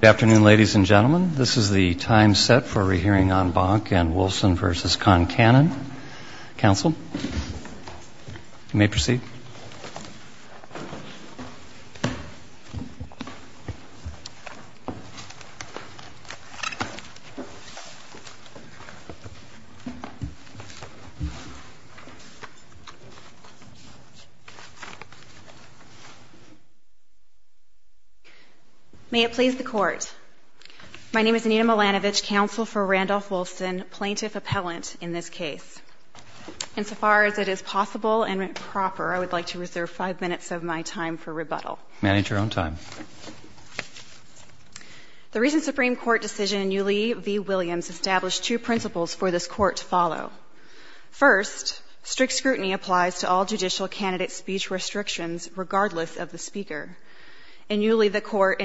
Good afternoon, ladies and gentlemen. This is the time set for a re-hearing on Bank and Wolfson v. Concannon. Council, you may proceed. May it please the Court, my name is Anita Milanovich, counsel for Randolph Wolfson, plaintiff-appellant in this case. Insofar as it is possible and proper, I would like to reserve five minutes of my time for rebuttal. Manage your own time. The recent Supreme Court decision in Yulee v. Williams established two principles for this Court to follow. First, strict scrutiny applies to all judicial candidate speech restrictions, regardless of the speaker. In Yulee, the Court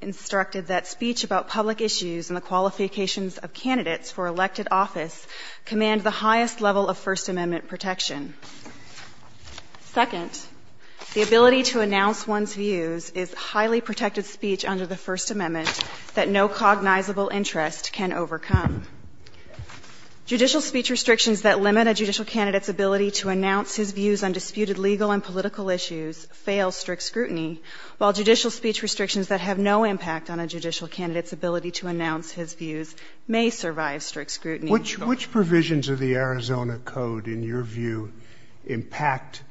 instructed that speech about public issues and the qualifications of candidates for elected office command the highest level of First Amendment protection. Second, the ability to announce one's views is highly protected speech under the First Amendment that no cognizable interest can overcome. Judicial speech restrictions that limit a judicial candidate's ability to announce his views on disputed legal and political issues fail strict scrutiny, while judicial speech restrictions that have no impact on a judicial candidate's ability to announce his views may survive strict scrutiny. Which provisions of the Arizona Code, in your view, impact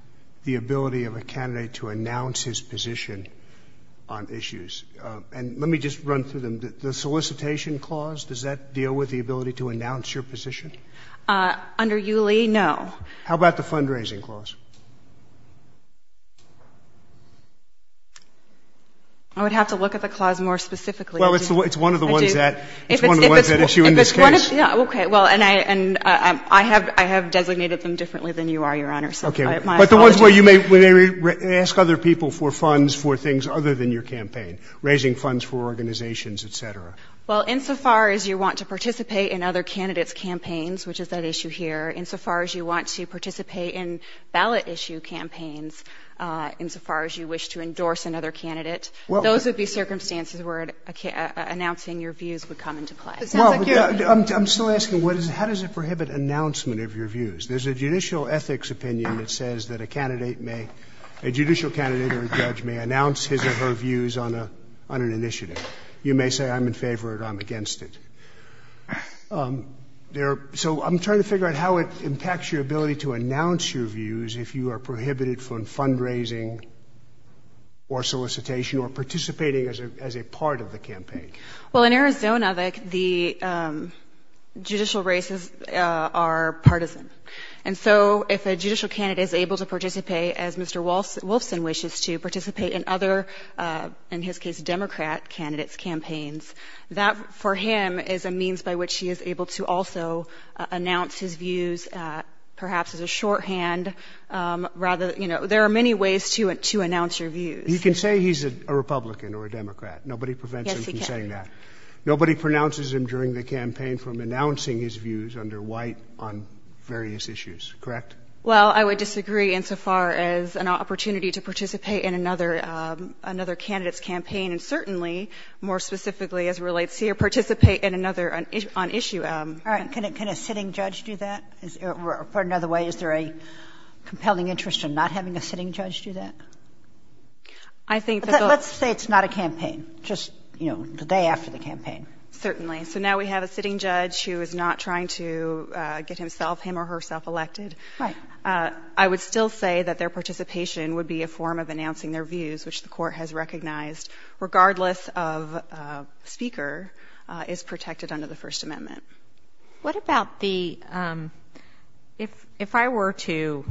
the ability of a candidate to announce his position on issues? And let me just run through them. The solicitation clause, does that deal with the ability to announce your position? Under Yulee, no. How about the fundraising clause? I would have to look at the clause more specifically. Well, it's one of the ones that issue in this case. Yeah, okay. Well, and I have designated them differently than you are, Your Honor, so my apologies. Okay. But the ones where you may ask other people for funds for things other than your campaign, raising funds for organizations, et cetera. Well, insofar as you want to participate in other candidates' campaigns, which is that issue here, insofar as you want to participate in ballot issue campaigns, insofar as you wish to endorse another candidate, those would be circumstances where announcing your views would come into play. Well, I'm still asking, how does it prohibit announcement of your views? There's a judicial ethics opinion that says that a judicial candidate or a judge may announce his or her views on an initiative. You may say, I'm in favor of it or I'm against it. So I'm trying to figure out how it impacts your ability to announce your views if you are prohibited from fundraising or solicitation or participating as a part of the campaign. Well, in Arizona, the judicial races are partisan. And so if a judicial candidate is able to participate, as Mr. Wolfson wishes to participate in other, in his case, Democrat candidates' campaigns, that for him is a means by which he is able to also announce his views, perhaps as a shorthand. Rather, you know, there are many ways to announce your views. He can say he's a Republican or a Democrat. Nobody prevents him from saying that. Nobody pronounces him during the campaign from announcing his views under White on various issues. Correct? Well, I would disagree insofar as an opportunity to participate in another candidate's campaign and certainly, more specifically, as relates here, participate in another on issue. All right. Can a sitting judge do that? Or put it another way, is there a compelling interest in not having a sitting judge do that? I think that the Let's say it's not a campaign. Just, you know, the day after the campaign. Certainly. So now we have a sitting judge who is not trying to get himself, him or herself elected. Right. I would still say that their participation would be a form of announcing their views, which the Court has recognized, regardless of speaker, is protected under the First Amendment. What about the, if I were to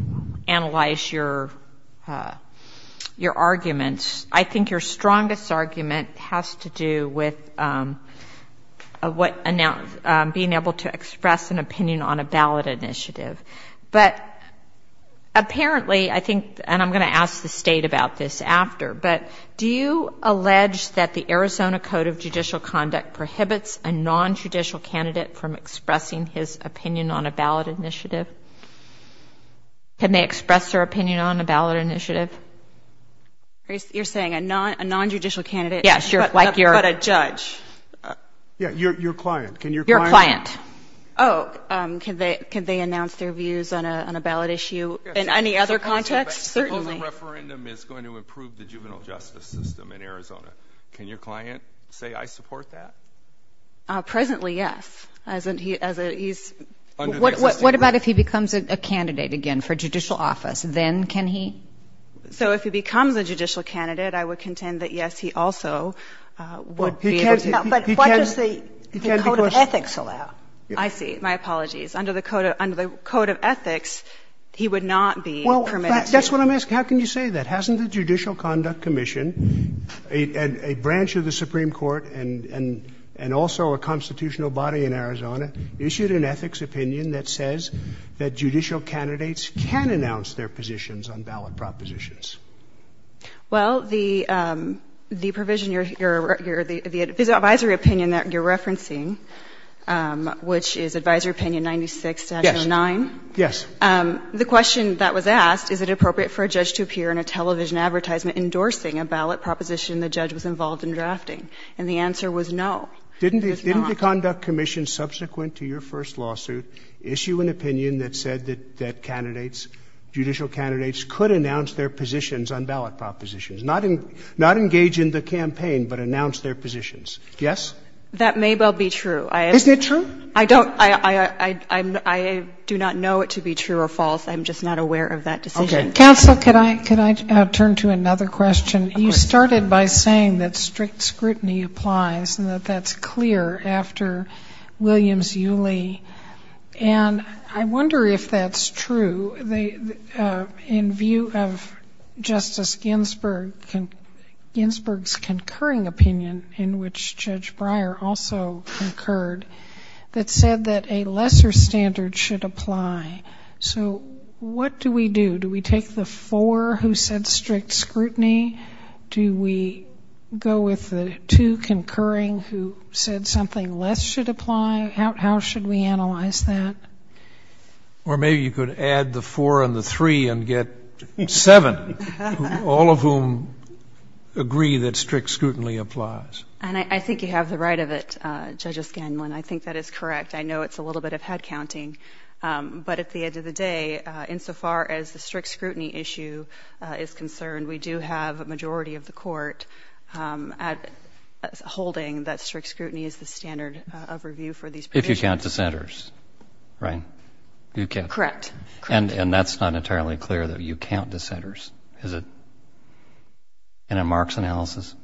analyze your arguments, I think your strongest argument has to do with being able to express an opinion on a ballot initiative. But apparently, I think, and I'm going to ask the State about this after, but do you expect a non-judicial candidate from expressing his opinion on a ballot initiative? Can they express their opinion on a ballot initiative? You're saying a non-judicial candidate? Yes. But a judge. Yeah. Your client. Your client. Oh. Can they announce their views on a ballot issue in any other context? Certainly. Suppose a referendum is going to improve the juvenile justice system in Arizona. Can your client say, I support that? Presently, yes. As a, he's. What about if he becomes a candidate again for judicial office? Then can he? So if he becomes a judicial candidate, I would contend that, yes, he also would be able to. But what does the Code of Ethics allow? I see. My apologies. Under the Code of Ethics, he would not be permitted to. Well, that's what I'm asking. How can you say that? Hasn't the Judicial Conduct Commission, a branch of the Supreme Court and also a constitutional body in Arizona, issued an ethics opinion that says that judicial candidates can announce their positions on ballot propositions? Well, the provision, the advisory opinion that you're referencing, which is Advisory Opinion 96-09. Yes. Yes. The question that was asked, is it appropriate for a judge to appear in a television advertisement endorsing a ballot proposition the judge was involved in drafting? And the answer was no. It is not. Didn't the Conduct Commission, subsequent to your first lawsuit, issue an opinion that said that candidates, judicial candidates, could announce their positions on ballot propositions, not engage in the campaign, but announce their positions? Yes? That may well be true. Isn't it true? I don't. I do not know it to be true or false. I'm just not aware of that decision. Okay. Counsel, could I turn to another question? Of course. You started by saying that strict scrutiny applies and that that's clear after Williams-Yulee. And I wonder if that's true. In view of Justice Ginsburg's concurring opinion, in which Judge Breyer also concurred, that said that a lesser standard should apply. So what do we do? Do we take the four who said strict scrutiny? Do we go with the two concurring who said something less should apply? How should we analyze that? Or maybe you could add the four and the three and get seven, all of whom agree that strict scrutiny applies. And I think you have the right of it, Judge O'Scanlan. I think that is correct. I know it's a little bit of head counting. But at the end of the day, insofar as the strict scrutiny issue is concerned, we do have a majority of the Court holding that strict scrutiny is the standard of review for these provisions. If you count dissenters, right? Correct. And that's not entirely clear, though. You count dissenters, is it? And in Mark's analysis?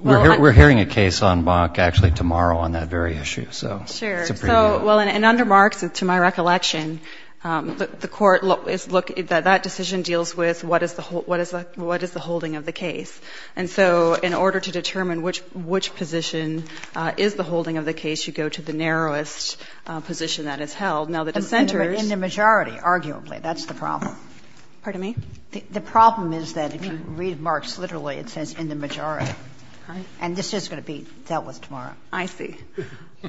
We're hearing a case on Mark, actually, tomorrow on that very issue. So it's a prelude. Sure. So, well, and under Mark's, to my recollection, the Court is looking at that decision deals with what is the holding of the case. And so in order to determine which position is the holding of the case, you go to the narrowest position that is held. Now, the dissenters. In the majority, arguably. That's the problem. Pardon me? The problem is that if you read Mark's literally, it says in the majority. Right. And this is going to be dealt with tomorrow. I see.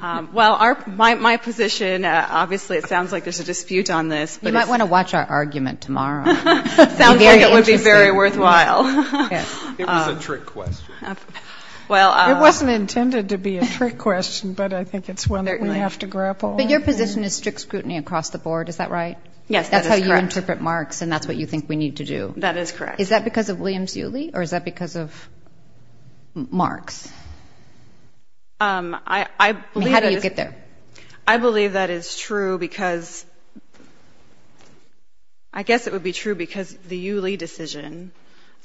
Well, my position, obviously, it sounds like there's a dispute on this. You might want to watch our argument tomorrow. Sounds like it would be very worthwhile. Yes. It was a trick question. It wasn't intended to be a trick question, but I think it's one that we have to grapple with. But your position is strict scrutiny across the board, is that right? Yes, that is correct. So you interpret Mark's and that's what you think we need to do. That is correct. Is that because of Williams-Yulee or is that because of Mark's? I believe it is. How do you get there? I believe that is true because I guess it would be true because the Yulee decision,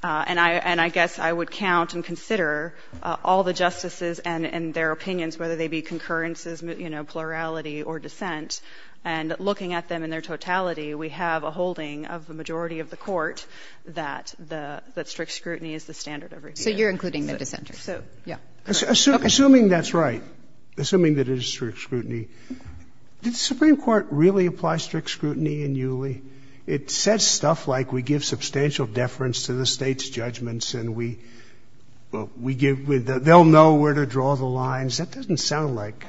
and I guess I would count and consider all the justices and their opinions, whether they be concurrences, plurality or dissent, and looking at them in their totality, we have a holding of the majority of the court that strict scrutiny is the standard of review. So you're including the dissenters. Yeah. Assuming that's right, assuming that it is strict scrutiny, did the Supreme Court really apply strict scrutiny in Yulee? It said stuff like we give substantial deference to the state's judgments and we give with the, they'll know where to draw the lines. That doesn't sound like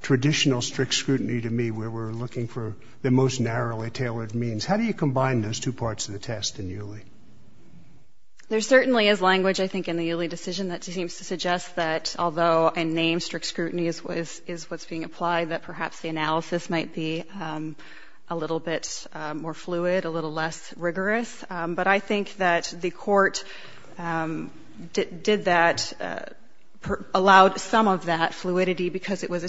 traditional strict scrutiny to me where we're looking for the most narrowly tailored means. How do you combine those two parts of the test in Yulee? There certainly is language, I think, in the Yulee decision that seems to suggest that although in name strict scrutiny is what's being applied, that perhaps the analysis might be a little bit more fluid, a little less rigorous. But I think that the court did that, allowed some of that fluidity because it was a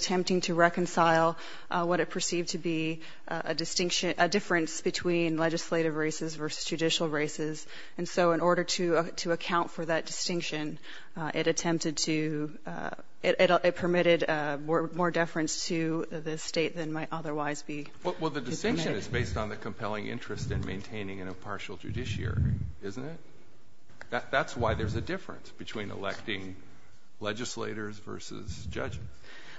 distinction, a difference between legislative races versus judicial races. And so in order to account for that distinction, it attempted to, it permitted more deference to the state than might otherwise be. Well, the distinction is based on the compelling interest in maintaining an impartial judiciary, isn't it? That's why there's a difference between electing legislators versus judges.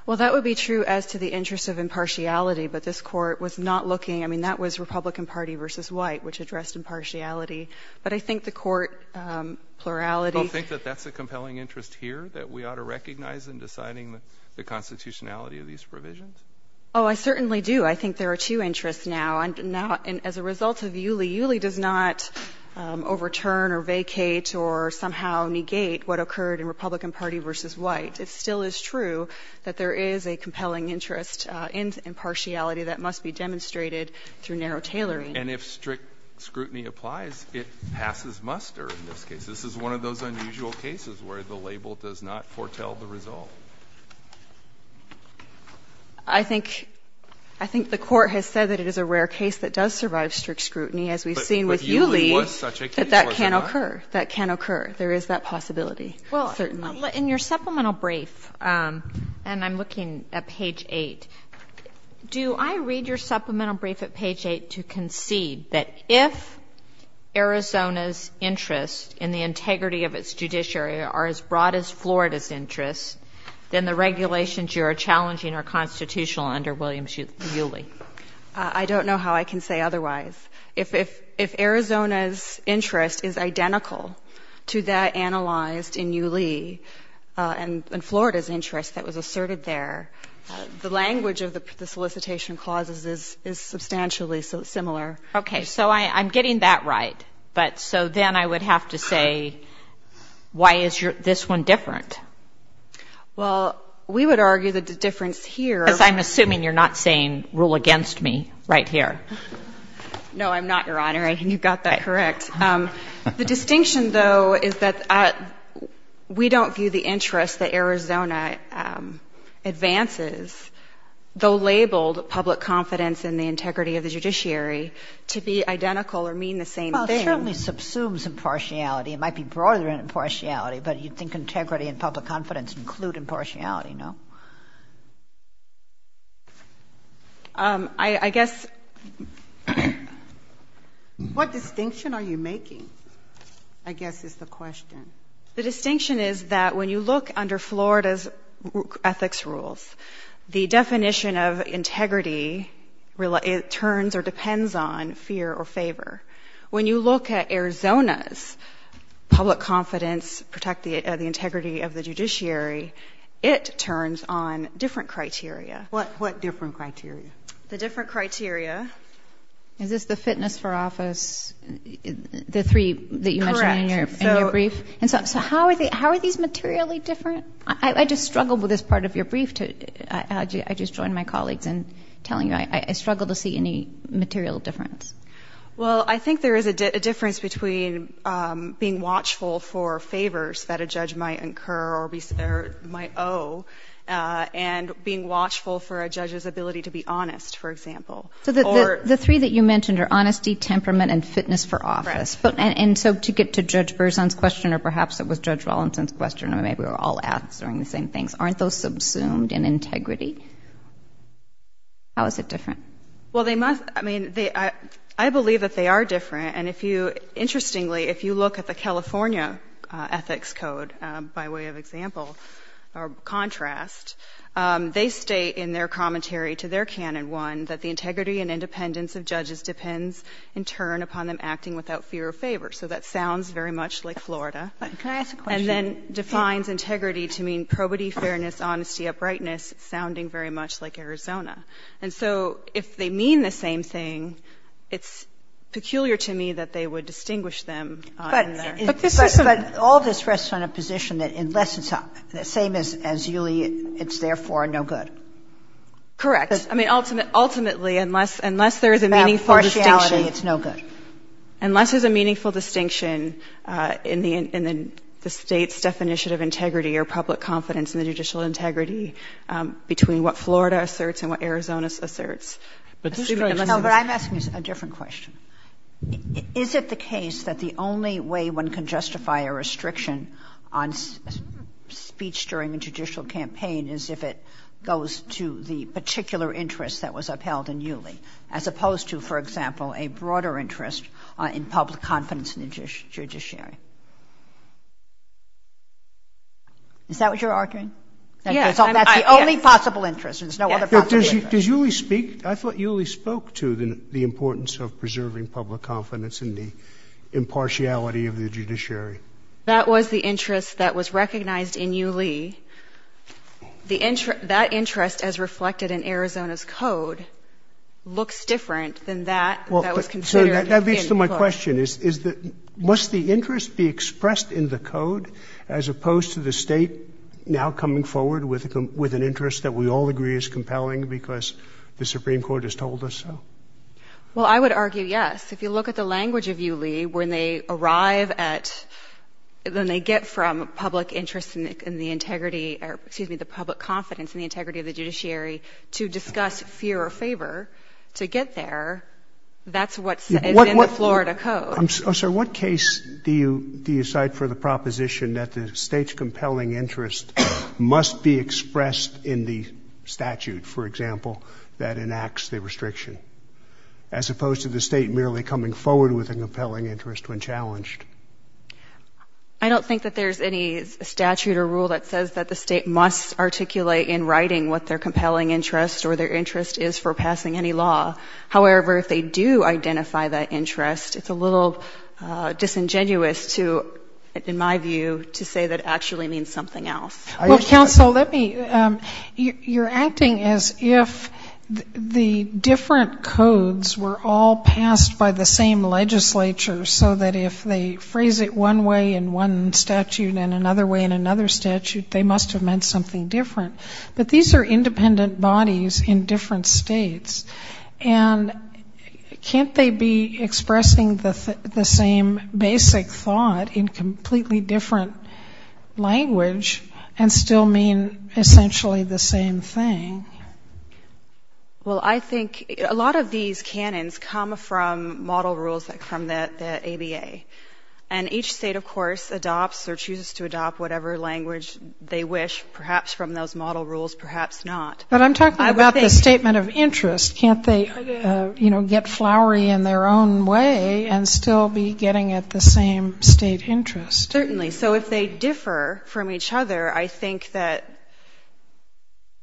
Well, that would be true as to the interest of impartiality. But this court was not looking, I mean, that was Republican Party versus White, which addressed impartiality. But I think the court plurality. Don't think that that's a compelling interest here that we ought to recognize in deciding the constitutionality of these provisions? Oh, I certainly do. I think there are two interests now. And as a result of Yulee, Yulee does not overturn or vacate or somehow negate what occurred in Republican Party versus White. It still is true that there is a compelling interest in impartiality that must be demonstrated through narrow tailoring. And if strict scrutiny applies, it passes muster in this case. This is one of those unusual cases where the label does not foretell the result. I think the Court has said that it is a rare case that does survive strict scrutiny, as we've seen with Yulee. But Yulee was such a case, was it not? That that can occur. That can occur. There is that possibility, certainly. In your supplemental brief, and I'm looking at page 8, do I read your supplemental brief at page 8 to concede that if Arizona's interest in the integrity of its judiciary are as broad as Florida's interest, then the regulations you are challenging are constitutional under Williams-Yulee? I don't know how I can say otherwise. If Arizona's interest is identical to that analyzed in Yulee, and Florida's interest that was asserted there, the language of the solicitation clauses is substantially similar. Okay. So I'm getting that right. But so then I would have to say why is this one different? Well, we would argue that the difference here. Because I'm assuming you're not saying rule against me right here. No, I'm not, Your Honor. You've got that correct. The distinction, though, is that we don't view the interest that Arizona advances, though labeled public confidence in the integrity of the judiciary, to be identical or mean the same thing. Well, it certainly subsumes impartiality. It might be broader than impartiality, but you'd think integrity and public confidence include impartiality, no? I guess. What distinction are you making, I guess, is the question. The distinction is that when you look under Florida's ethics rules, the definition of integrity turns or depends on fear or favor. When you look at Arizona's public confidence, protect the integrity of the judiciary, it turns on different criteria. What different criteria? The different criteria. Is this the fitness for office, the three that you mentioned in your brief? Correct. So how are these materially different? I just struggled with this part of your brief. I just joined my colleagues in telling you I struggle to see any material difference. Well, I think there is a difference between being watchful for favors that a judge might incur or might owe and being watchful for a judge's ability to be honest, for example. So the three that you mentioned are honesty, temperament, and fitness for office. Correct. And so to get to Judge Berzon's question, or perhaps it was Judge Rollinson's question, or maybe we're all answering the same things, aren't those subsumed in integrity? How is it different? Well, they must be. I mean, I believe that they are different. And interestingly, if you look at the California Ethics Code, by way of example or contrast, they state in their commentary to their Canon I that the integrity and independence of judges depends in turn upon them acting without fear or favor. So that sounds very much like Florida. Can I ask a question? And then defines integrity to mean probity, fairness, honesty, uprightness, sounding very much like Arizona. And so if they mean the same thing, it's peculiar to me that they would distinguish them. But all of this rests on a position that unless it's the same as Julie, it's therefore no good. Correct. I mean, ultimately, unless there is a meaningful distinction. It's no good. Unless there's a meaningful distinction in the State's definition of integrity or public confidence in the judicial integrity between what Florida asserts and what Arizona asserts. No, but I'm asking a different question. Is it the case that the only way one can justify a restriction on speech during a judicial campaign is if it goes to the particular interest that was upheld in Julie, as opposed to, for example, a broader interest in public confidence in the judiciary? Is that what you're arguing? Yes. That's the only possible interest. There's no other possible interest. Does Julie speak? I thought Julie spoke to the importance of preserving public confidence in the impartiality of the judiciary. That was the interest that was recognized in Julie. That interest, as reflected in Arizona's code, looks different than that that was considered in the court. That leads to my question. Is the — must the interest be expressed in the code, as opposed to the State now coming forward with an interest that we all agree is compelling because the Supreme Court has told us so? Well, I would argue yes. If you look at the language of Julie, when they arrive at — when they get from public interest in the integrity — or, excuse me, the public confidence in the integrity of That's what's in the Florida code. But what — oh, sir, what case do you cite for the proposition that the State's compelling interest must be expressed in the statute, for example, that enacts the restriction, as opposed to the State merely coming forward with a compelling interest when challenged? I don't think that there's any statute or rule that says that the State must articulate in writing what their compelling interest or their interest is for passing any law. However, if they do identify that interest, it's a little disingenuous to, in my view, to say that actually means something else. Well, counsel, let me — you're acting as if the different codes were all passed by the same legislature, so that if they phrase it one way in one statute and another way in another statute, they must have meant something different. But these are independent bodies in different states. And can't they be expressing the same basic thought in completely different language and still mean essentially the same thing? Well, I think a lot of these canons come from model rules from the ABA. And each state, of course, adopts or chooses to adopt whatever language they wish, perhaps from those model rules, perhaps not. But I'm talking about the statement of interest. Can't they, you know, get flowery in their own way and still be getting at the same state interest? Certainly. So if they differ from each other, I think that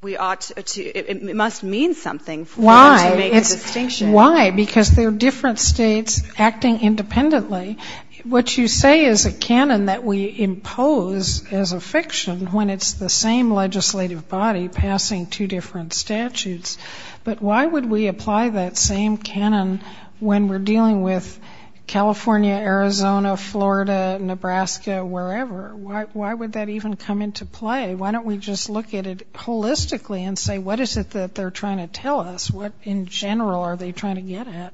we ought to — it must mean something for them to make a distinction. Why? Because they're different states acting independently. What you say is a canon that we impose as a fiction when it's the same legislative body passing two different statutes. But why would we apply that same canon when we're dealing with California, Arizona, Florida, Nebraska, wherever? Why would that even come into play? Why don't we just look at it holistically and say, what is it that they're trying to tell us? What in general are they trying to get at?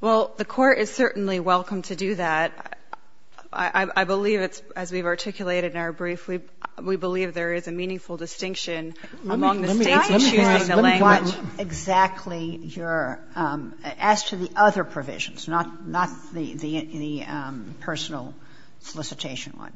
Well, the Court is certainly welcome to do that. I believe it's — as we've articulated in our brief, we believe there is a meaningful distinction among the states in choosing the language. Let me ask you what exactly your — as to the other provisions, not the personal solicitation one,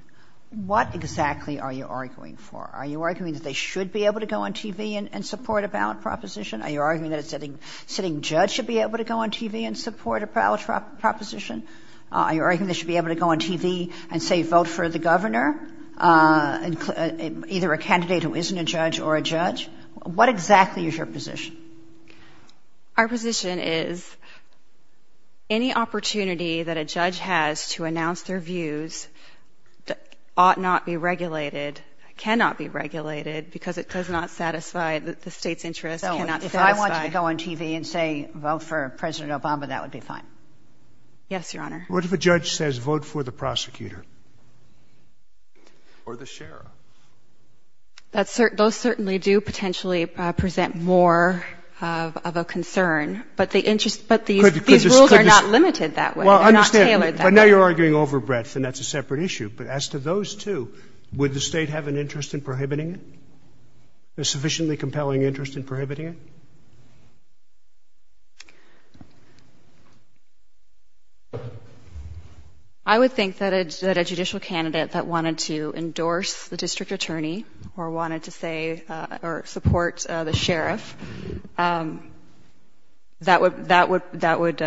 what exactly are you arguing for? Are you arguing that they should be able to go on TV and support a ballot proposition? Are you arguing that a sitting judge should be able to go on TV and support a ballot proposition? Are you arguing they should be able to go on TV and, say, vote for the governor, either a candidate who isn't a judge or a judge? What exactly is your position? Our position is any opportunity that a judge has to announce their views ought not be regulated, cannot be regulated, because it does not satisfy the state's interest, cannot satisfy — So if I want you to go on TV and say vote for President Obama, that would be fine? Yes, Your Honor. What if a judge says vote for the prosecutor? Or the sheriff? Those certainly do potentially present more of a concern. But the interest — but these rules are not limited that way. They're not tailored that way. Well, I understand. But now you're arguing over breadth, and that's a separate issue. But as to those two, would the state have an interest in prohibiting it, a sufficiently compelling interest in prohibiting it? I would think that a judicial candidate that wanted to endorse the district attorney or wanted to say — or support the sheriff, that would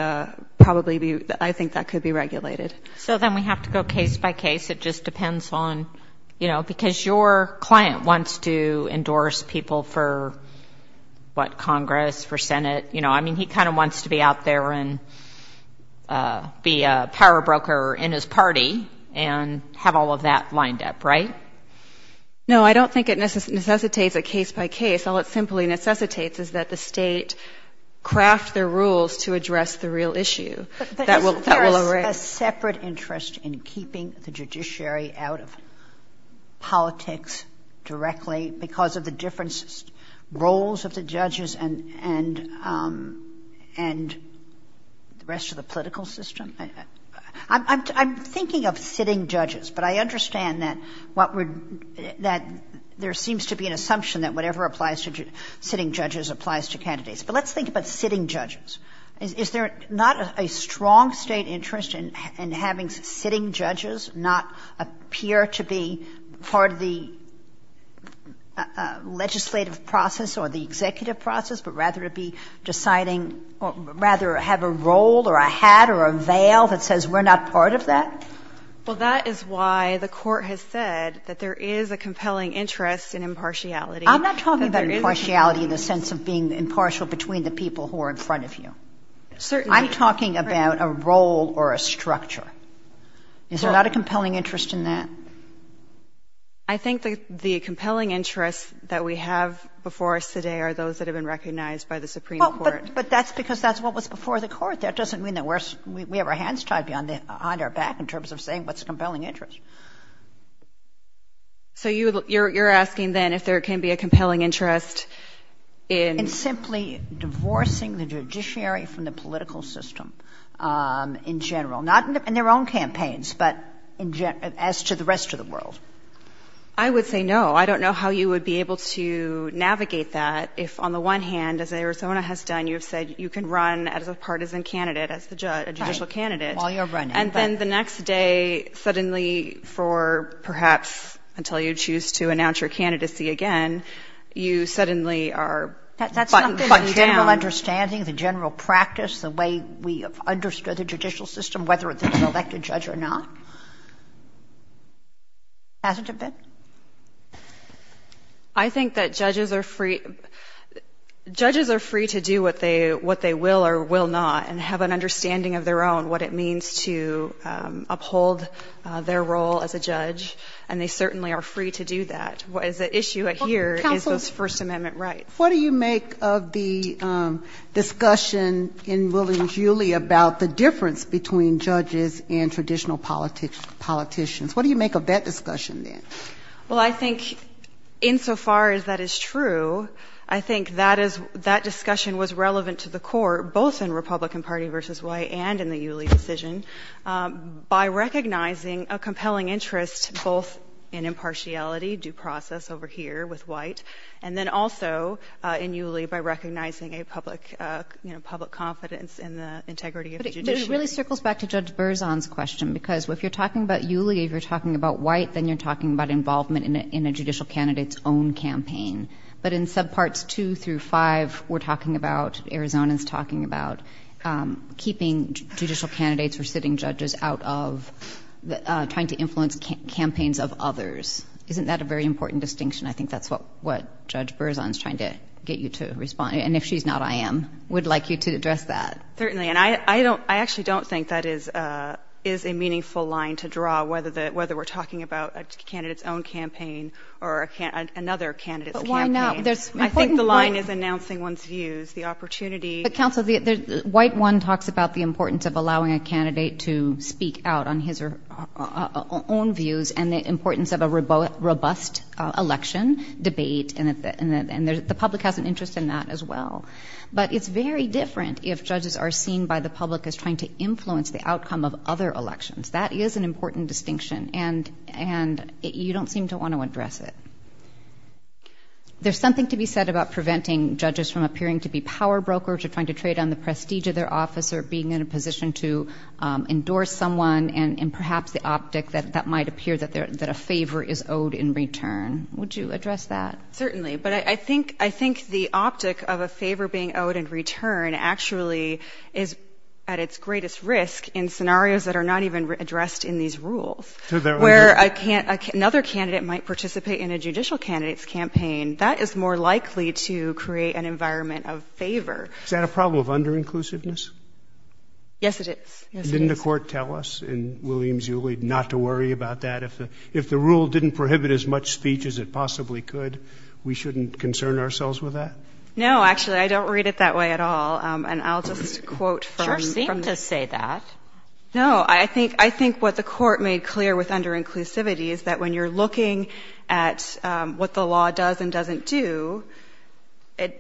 probably be — I think that could be regulated. So then we have to go case by case. It just depends on — you know, because your client wants to endorse people for, what, Congress, for Senate. You know, I mean, he kind of wants to be out there and be a power broker in his party and have all of that lined up, right? No, I don't think it necessitates a case by case. All it simply necessitates is that the state craft their rules to address the real issue. But isn't there a separate interest in keeping the judiciary out of politics directly because of the different roles of the judges and the rest of the political system? I'm thinking of sitting judges, but I understand that there seems to be an assumption that whatever applies to sitting judges applies to candidates. But let's think about sitting judges. Is there not a strong state interest in having sitting judges not appear to be part of the legislative process or the executive process, but rather to be deciding or rather have a role or a hat or a veil that says we're not part of that? Well, that is why the Court has said that there is a compelling interest in impartiality. I'm not talking about impartiality in the sense of being impartial between the people who are in front of you. I'm talking about a role or a structure. Is there not a compelling interest in that? I think the compelling interest that we have before us today are those that have been recognized by the Supreme Court. But that's because that's what was before the Court. That doesn't mean that we have our hands tied behind our back in terms of saying what's a compelling interest. So you're asking then if there can be a compelling interest in… from the political system in general. Not in their own campaigns, but as to the rest of the world. I would say no. I don't know how you would be able to navigate that if on the one hand, as Arizona has done, you have said you can run as a partisan candidate, as a judicial candidate. Right, while you're running. And then the next day suddenly for perhaps until you choose to announce your candidacy again, you suddenly are buttoned down. But the general understanding, the general practice, the way we have understood the judicial system, whether it's an elected judge or not. Hasn't it been? I think that judges are free to do what they will or will not and have an understanding of their own what it means to uphold their role as a judge. And they certainly are free to do that. The issue here is the First Amendment right. What do you make of the discussion in Williams-Uly about the difference between judges and traditional politicians? What do you make of that discussion then? Well, I think insofar as that is true, I think that discussion was relevant to the court, both in Republican Party v. White and in the Uly decision, by recognizing a compelling interest both in impartiality, due process over here with White, and then also in Uly by recognizing a public confidence in the integrity of the judiciary. But it really circles back to Judge Berzon's question because if you're talking about Uly, if you're talking about White, then you're talking about involvement in a judicial candidate's own campaign. But in subparts two through five, we're talking about, Arizona's talking about, keeping judicial candidates or sitting judges out of trying to influence campaigns of others. Isn't that a very important distinction? I think that's what Judge Berzon is trying to get you to respond. And if she's not, I am. I would like you to address that. Certainly. And I actually don't think that is a meaningful line to draw, whether we're talking about a candidate's own campaign or another candidate's campaign. But why not? I think the line is announcing one's views, the opportunity. But, counsel, the White one talks about the importance of allowing a candidate to speak out on his and the importance of a robust election debate. And the public has an interest in that as well. But it's very different if judges are seen by the public as trying to influence the outcome of other elections. That is an important distinction. And you don't seem to want to address it. There's something to be said about preventing judges from appearing to be power brokers or trying to trade on the prestige of their office or being in a position to endorse someone and perhaps the optic that that might appear that a favor is owed in return. Would you address that? Certainly. But I think the optic of a favor being owed in return actually is at its greatest risk in scenarios that are not even addressed in these rules. Where another candidate might participate in a judicial candidate's campaign, that is more likely to create an environment of favor. Is that a problem of under-inclusiveness? Yes, it is. Didn't the court tell us in Williams-Uley not to worry about that? If the rule didn't prohibit as much speech as it possibly could, we shouldn't concern ourselves with that? No, actually, I don't read it that way at all. And I'll just quote from the... You sure seem to say that. No, I think what the court made clear with under-inclusivity is that when you're looking at what the law does and doesn't do, and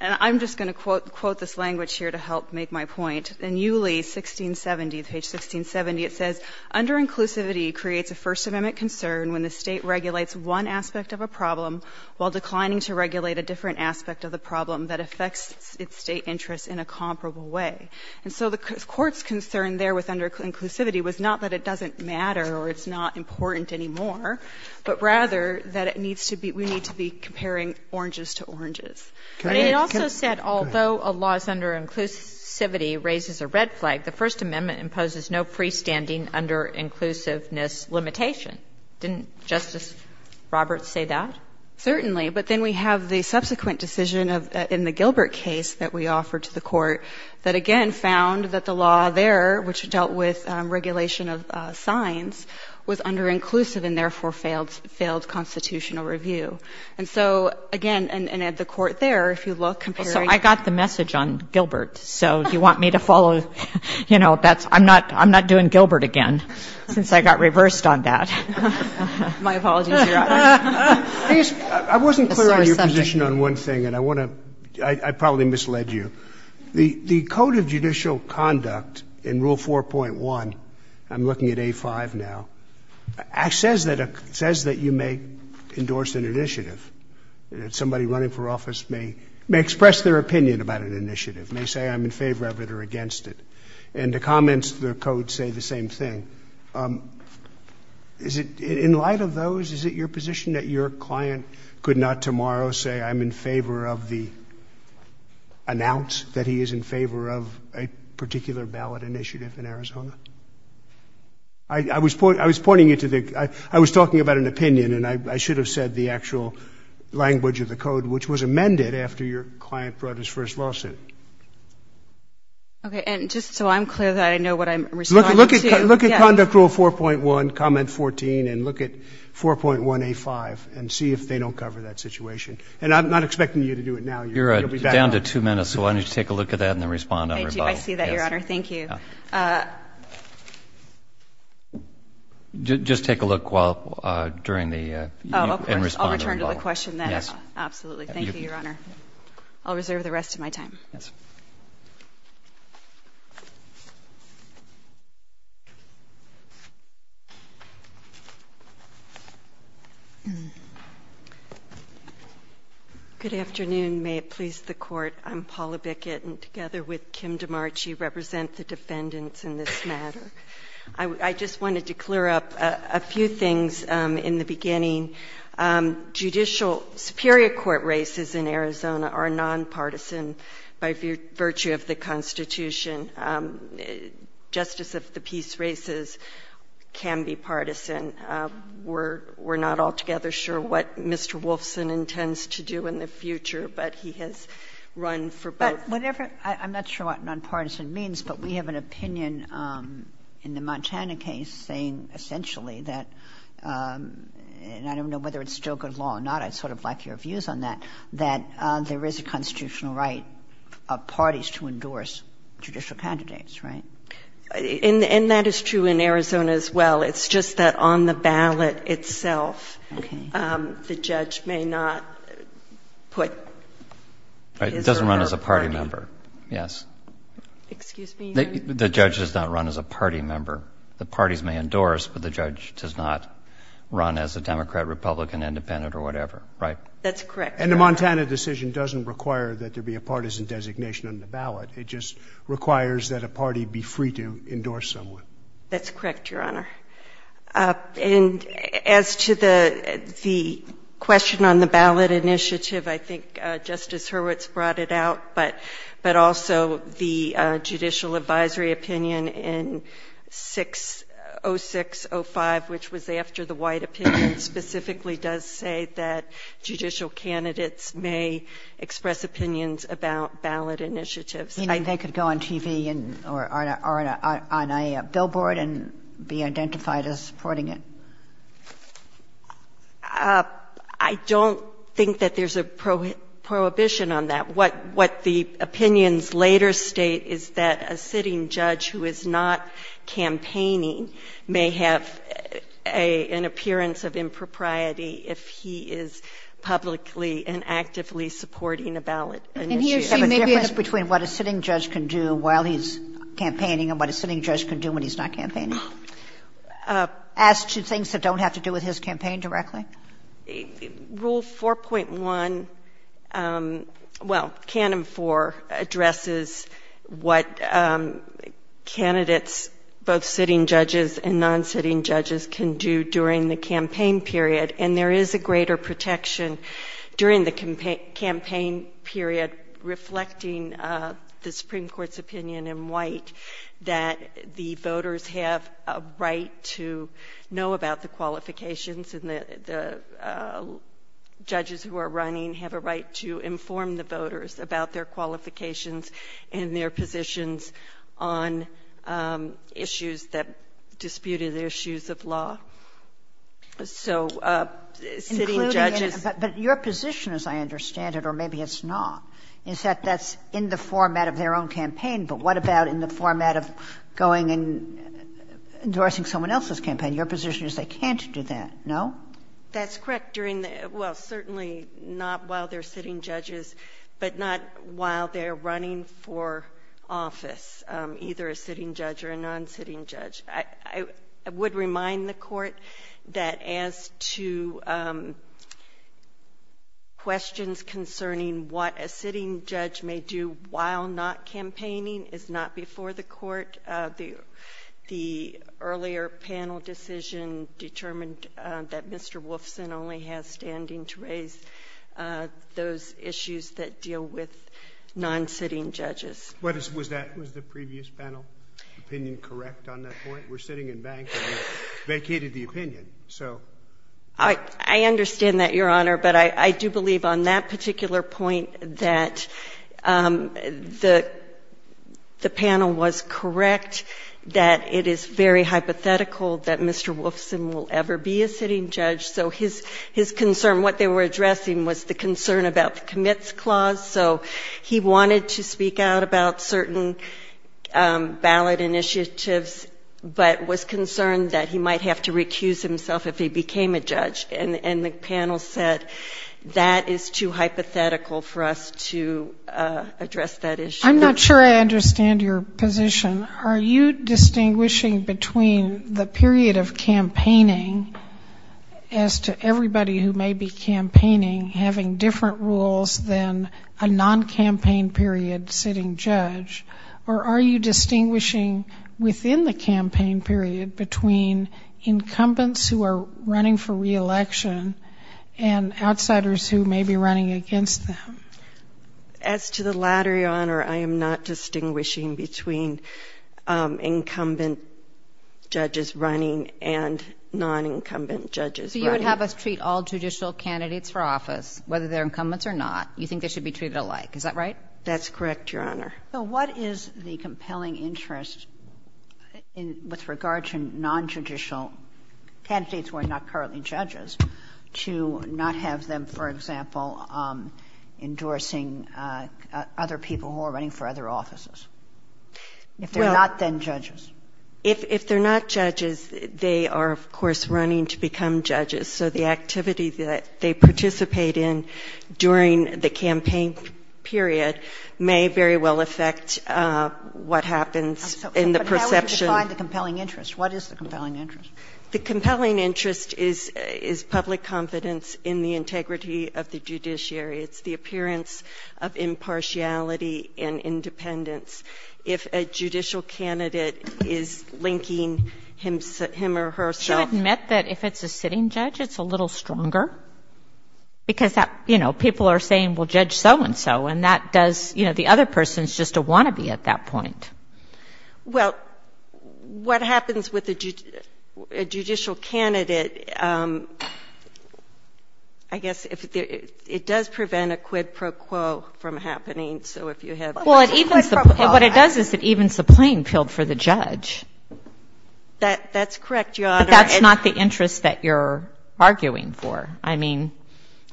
I'm just going to quote this language here to help make my point. In Uley 1670, page 1670, it says, Under-inclusivity creates a First Amendment concern when the State regulates one aspect of a problem while declining to regulate a different aspect of the problem that affects its State interests in a comparable way. And so the court's concern there with under-inclusivity was not that it doesn't matter or it's not important anymore, but rather that it needs to be we need to be comparing oranges to oranges. But it also said although a law is under-inclusivity raises a red flag, the First Amendment imposes no freestanding under-inclusiveness limitation. Didn't Justice Roberts say that? Certainly. But then we have the subsequent decision in the Gilbert case that we offered to the Court that again found that the law there, which dealt with regulation of signs, was under-inclusive and therefore failed constitutional review. And so, again, and at the Court there, if you look, comparing — Well, so I got the message on Gilbert. So do you want me to follow, you know, that's — I'm not — I'm not doing Gilbert again since I got reversed on that. My apologies, Your Honor. I wasn't clear on your position on one thing, and I want to — I probably misled you. The Code of Judicial Conduct in Rule 4.1 — I'm looking at A5 now — says that you may endorse an initiative, that somebody running for office may express their opinion about an initiative, may say, I'm in favor of it or against it. And the comments to the Code say the same thing. Is it — in light of those, is it your position that your client could not tomorrow say, I'm in favor of the — announce that he is in favor of a particular ballot initiative in Arizona? I was pointing you to the — I was talking about an opinion, and I should have said the actual language of the Code, which was amended after your client brought his first lawsuit. Okay. And just so I'm clear that I know what I'm responding to — Look at Conduct Rule 4.1, Comment 14, and look at 4.1A5 and see if they don't cover that situation. And I'm not expecting you to do it now. You'll be back on — You're down to two minutes, so why don't you take a look at that and then respond on rebuttal. I do. Thank you for that, Your Honor. Thank you. Just take a look while — during the — and respond on rebuttal. Oh, of course. I'll return to the question then. Yes. Absolutely. Thank you, Your Honor. I'll reserve the rest of my time. Yes. Good afternoon. May it please the Court. I'm Paula Bickett, and together with Kim DiMarci represent the defendants in this matter. I just wanted to clear up a few things in the beginning. Judicial — superior court races in Arizona are nonpartisan by virtue of the Constitution. Justice of the Peace races can be partisan. We're not altogether sure what Mr. Wolfson intends to do in the future, but he has run for both. But whatever — I'm not sure what nonpartisan means, but we have an opinion in the Montana case saying essentially that — and I don't know whether it's still good law or not. I'd sort of like your views on that — that there is a constitutional right of parties to endorse judicial candidates, right? And that is true in Arizona as well. It's just that on the ballot itself, the judge may not put his or her — Right. It doesn't run as a party member. Yes. Excuse me? The judge does not run as a party member. The parties may endorse, but the judge does not run as a Democrat, Republican, independent, or whatever. Right? That's correct, Your Honor. And the Montana decision doesn't require that there be a partisan designation on the ballot. It just requires that a party be free to endorse someone. That's correct, Your Honor. And as to the question on the ballot initiative, I think Justice Hurwitz brought it out, but also the judicial advisory opinion in 6 — 06-05, which was after the White opinion, specifically does say that judicial candidates may express opinions about ballot initiatives. You mean they could go on TV or on a billboard and be identified as supporting it? I don't think that there's a prohibition on that. What the opinions later state is that a sitting judge who is not campaigning may have an appearance of impropriety if he is publicly and actively supporting a ballot initiative. And here, see, maybe I have a question. And is there a difference between what a sitting judge can do while he's campaigning and what a sitting judge can do when he's not campaigning? As to things that don't have to do with his campaign directly? Rule 4.1 — well, Canon 4 addresses what candidates, both sitting judges and non-sitting judges, can do during the campaign period. And there is a greater protection during the campaign period reflecting the Supreme Court's opinion in White that the voters have a right to know about the qualifications and the judges who are running have a right to inform the voters about their qualifications and their positions on issues that disputed issues of law. So sitting judges — Including — but your position, as I understand it, or maybe it's not, is that that's in the format of their own campaign, but what about in the format of going and endorsing someone else's campaign? Your position is they can't do that, no? That's correct. During the — well, certainly not while they're sitting judges, but not while they're running for office, either a sitting judge or a non-sitting judge. I would remind the Court that as to questions concerning what a sitting judge may do while not campaigning is not before the Court. The earlier panel decision determined that Mr. Wolfson only has standing to raise those issues that deal with non-sitting judges. Was that — was the previous panel opinion correct on that point? We're sitting in bank, and we vacated the opinion. So — I understand that, Your Honor, but I do believe on that particular point that the panel was correct, that it is very hypothetical that Mr. Wolfson will ever be a sitting judge. So his concern, what they were addressing, was the concern about the commits clause. So he wanted to speak out about certain ballot initiatives, but was concerned that he might have to recuse himself if he became a judge. And the panel said that is too hypothetical for us to address that issue. I'm not sure I understand your position. Are you distinguishing between the period of campaigning as to everybody who may be a non-campaign period sitting judge, or are you distinguishing within the campaign period between incumbents who are running for reelection and outsiders who may be running against them? As to the latter, Your Honor, I am not distinguishing between incumbent judges running and non-incumbent judges running. So you would have us treat all judicial candidates for office, whether they're incumbents or not. You think they should be treated alike. Is that right? That's correct, Your Honor. So what is the compelling interest with regard to non-judicial candidates who are not currently judges to not have them, for example, endorsing other people who are running for other offices, if they're not then judges? If they're not judges, they are, of course, running to become judges. So the activity that they participate in during the campaign period may very well affect what happens in the perception. But how would you define the compelling interest? What is the compelling interest? The compelling interest is public confidence in the integrity of the judiciary. It's the appearance of impartiality and independence. If a judicial candidate is linking him or herself. Wouldn't you admit that if it's a sitting judge, it's a little stronger? Because, you know, people are saying, well, Judge so-and-so, and that does, you know, the other person is just a wannabe at that point. Well, what happens with a judicial candidate, I guess, it does prevent a quid pro quo from So if you have a quid pro quo. Well, what it does is it evens the playing field for the judge. That's correct, Your Honor. But that's not the interest that you're arguing for. I mean,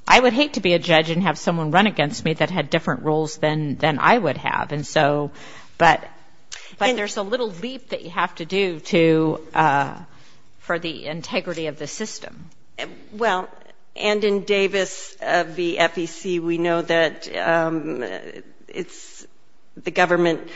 I would hate to be a judge and have someone run against me that had different roles than I would have. And so but there's a little leap that you have to do to for the integrity of the system. Well, and in Davis v. FEC, we know that it's the government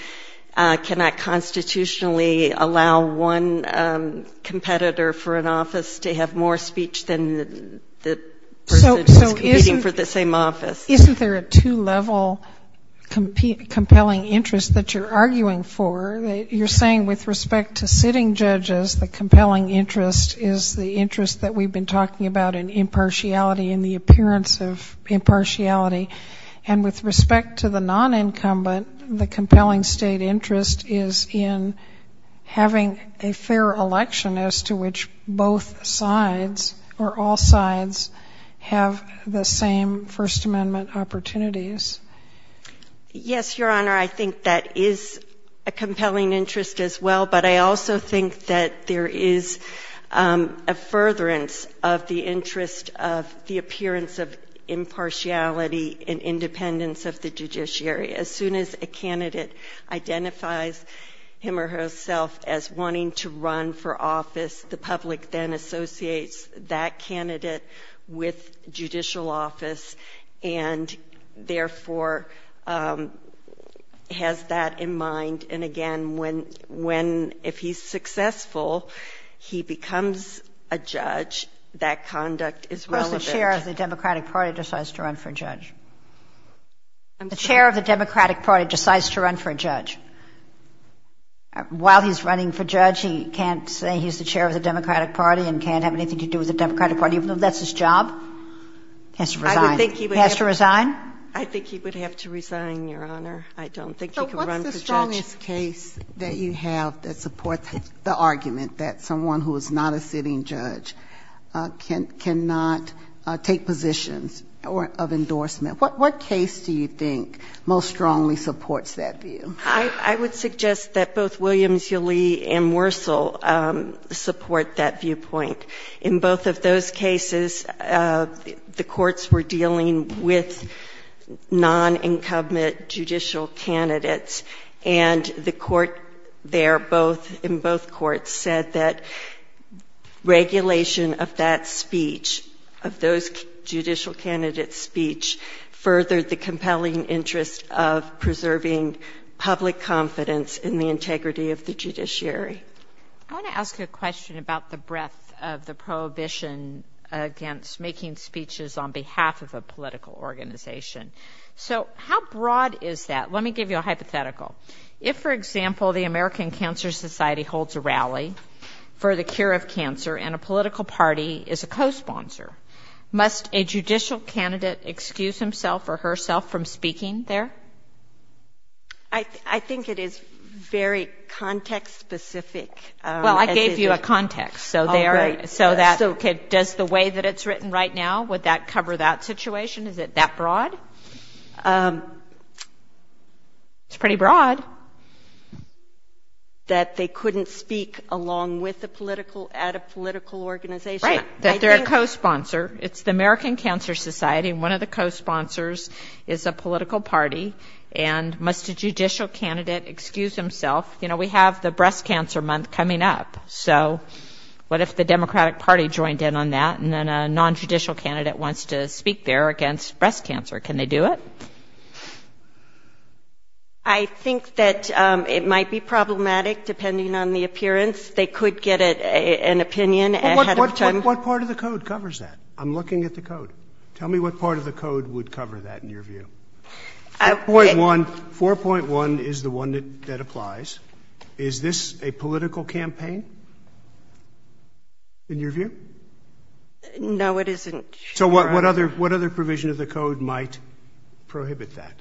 cannot constitutionally allow one competitor for an office to have more speech than the person competing for the same office. Isn't there a two-level compelling interest that you're arguing for? You're saying with respect to sitting judges, the compelling interest is the interest that we've been talking about in impartiality and the appearance of impartiality. And with respect to the non-incumbent, the compelling State interest is in having a fair election as to which both sides or all sides have the same First Amendment opportunities. Yes, Your Honor, I think that is a compelling interest as well, but I also think that there is a furtherance of the interest of the appearance of impartiality and independence of the judiciary. As soon as a candidate identifies him or herself as wanting to run for office, the public then associates that candidate with judicial office and therefore has that in mind. And again, when, if he's successful, he becomes a judge, that conduct is relevant. Of course the chair of the Democratic Party decides to run for judge. While he's running for judge, he can't say he's the chair of the Democratic Party and can't have anything to do with the Democratic Party, even though that's his job? He has to resign? I think he would have to resign, Your Honor. I don't think he can run for judge. So what's the strongest case that you have that supports the argument that someone who is not a sitting judge cannot take positions of endorsement? What case do you think most strongly supports that view? I would suggest that both Williams-Ylee and Wursel support that viewpoint. They're both non-incumbent judicial candidates, and the court there, in both courts, said that regulation of that speech, of those judicial candidates' speech, furthered the compelling interest of preserving public confidence in the integrity of the judiciary. I want to ask a question about the breadth of the prohibition against making speeches on behalf of a political organization. So how broad is that? Let me give you a hypothetical. If, for example, the American Cancer Society holds a rally for the cure of cancer and a political party is a cosponsor, must a judicial candidate excuse himself or herself from speaking there? I think it is very context-specific. Well, I gave you a context. So does the way that it's written right now, would that cover that situation? Is it that broad? It's pretty broad. That they couldn't speak along with a political, at a political organization. Right. That they're a cosponsor. It's the American Cancer Society, and one of the cosponsors is a political party, and must a judicial candidate excuse himself? You know, we have the breast cancer month coming up, so what if the Democratic Party joined in on that and then a nontraditional candidate wants to speak there against breast cancer? Can they do it? I think that it might be problematic, depending on the appearance. They could get an opinion ahead of time. What part of the code covers that? I'm looking at the code. Tell me what part of the code would cover that in your view. 4.1 is the one that applies. Is this a political campaign in your view? No, it isn't. So what other provision of the code might prohibit that?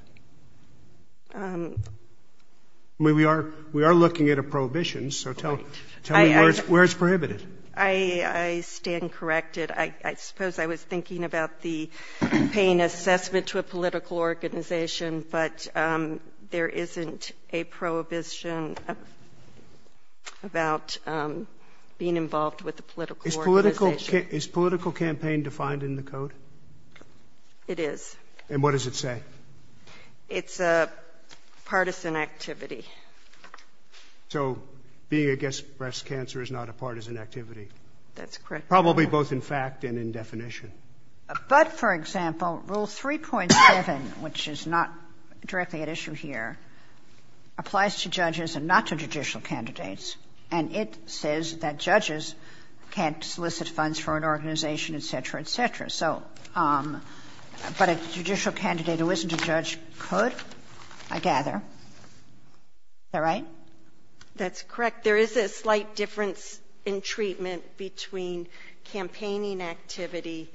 We are looking at a prohibition, so tell me where it's prohibited. I stand corrected. I suppose I was thinking about the campaign assessment to a political organization, but there isn't a prohibition about being involved with a political organization. Is this political campaign defined in the code? It is. And what does it say? It's a partisan activity. So being against breast cancer is not a partisan activity? That's correct. Probably both in fact and in definition. But, for example, Rule 3.7, which is not directly at issue here, applies to judges and not to judicial candidates, and it says that judges can't solicit funds for an organization, et cetera, et cetera. But a judicial candidate who isn't a judge could, I gather. Is that right? That's correct. There is a slight difference in treatment between campaigning activity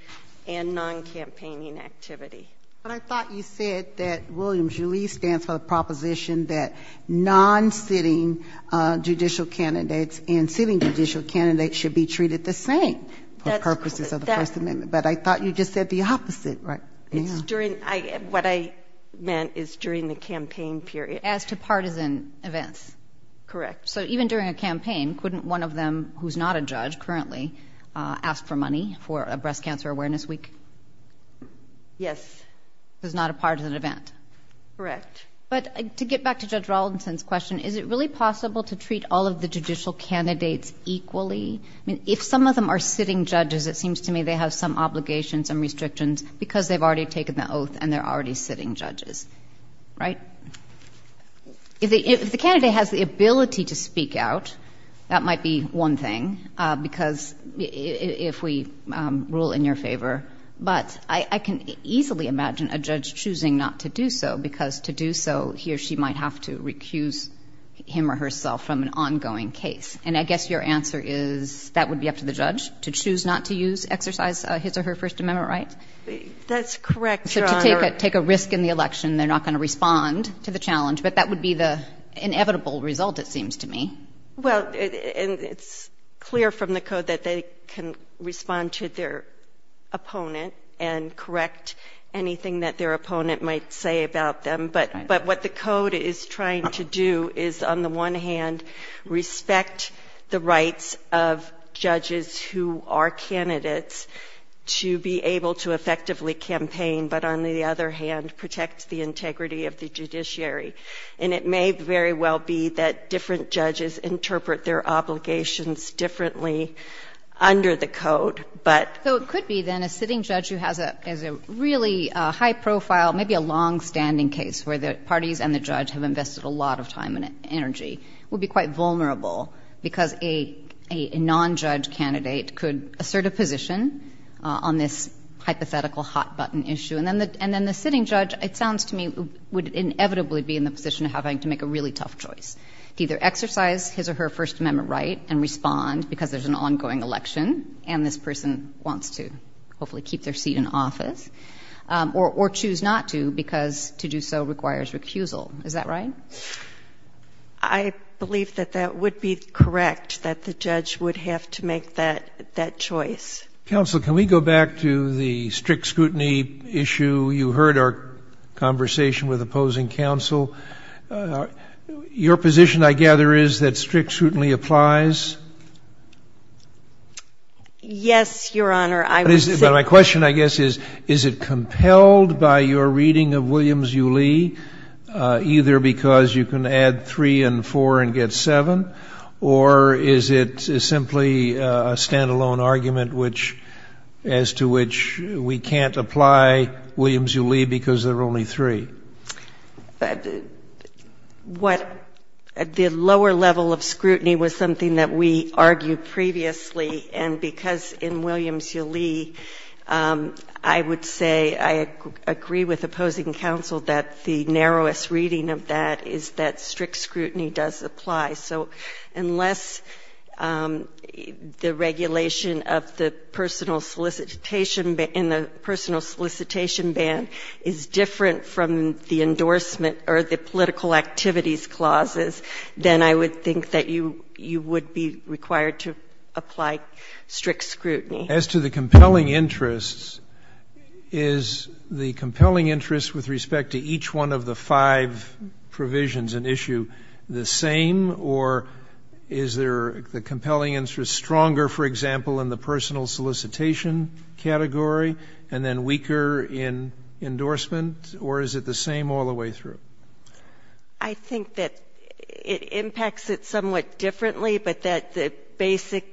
and non-campaigning activity. But I thought you said that William Julley stands for the proposition that non-sitting judges can't solicit funds for an organization. I thought you just said the opposite. What I meant is during the campaign period. As to partisan events. Correct. So even during a campaign, couldn't one of them who's not a judge currently ask for money for a breast cancer awareness week? Yes. Because it's not a partisan event. Correct. But to get back to Judge Raulston's question, is it really possible to treat all of the judicial candidates equally? I mean, if some of them are sitting judges, it seems to me they have some obligations and restrictions because they've already taken the oath and they're already sitting judges. Right? If the candidate has the ability to speak out, that might be one thing, because if we rule in your favor. But I can easily imagine a judge choosing not to do so, because to do so, he or she might have to make a decision that would be up to the judge to choose not to exercise his or her First Amendment rights. That's correct, Your Honor. So to take a risk in the election, they're not going to respond to the challenge. But that would be the inevitable result, it seems to me. Well, it's clear from the code that they can respond to their opponent and correct anything that their opponent might say about them. But what the code is trying to do is, on the one hand, respect the rights of judges who are candidates to be able to effectively campaign, but on the other hand, protect the integrity of the judiciary. And it may very well be that different judges interpret their obligations differently under the code. So it could be, then, a sitting judge who has a really high profile, maybe a longstanding case, where the parties and the judge have invested a lot of time and energy, would be quite vulnerable, because a non-judge candidate could assert a position on this hypothetical hot-button issue. And then the sitting judge, it sounds to me, would inevitably be in the position of having to make a really tough choice to either exercise his or her First Amendment right and respond, because there's an ongoing election, and this person wants to hopefully keep their seat in office, or choose not to, because to do so requires recusal. Is that right? I believe that that would be correct, that the judge would have to make that choice. Counsel, can we go back to the strict scrutiny issue? You heard our conversation with opposing counsel. Your position, I gather, is that strict scrutiny applies? Yes, Your Honor, I would say so. But my question, I guess, is, is it compelled by your reading of Williams v. Lee, either because you can add 3 and 4 and get 7, or is it simply a stand-alone argument, as to which we can't apply Williams v. Lee because there are only 3? What, the lower level of scrutiny was something that we argued previously, and because in Williams v. Lee, I would say I agree with opposing counsel that the narrowest reading of that is that strict scrutiny does apply. So unless the regulation of the personal solicitation, in the personal solicitation ban, is different from the endorsement or the political activities clauses, then I would think that you would be required to apply strict scrutiny. As to the compelling interests, is the compelling interest with respect to each one of the five provisions and issue the same, or is there the compelling interest stronger, for example, in the personal solicitation category, and then weaker in the endorsement, or is it the same all the way through? I think that it impacts it somewhat differently, but that the basic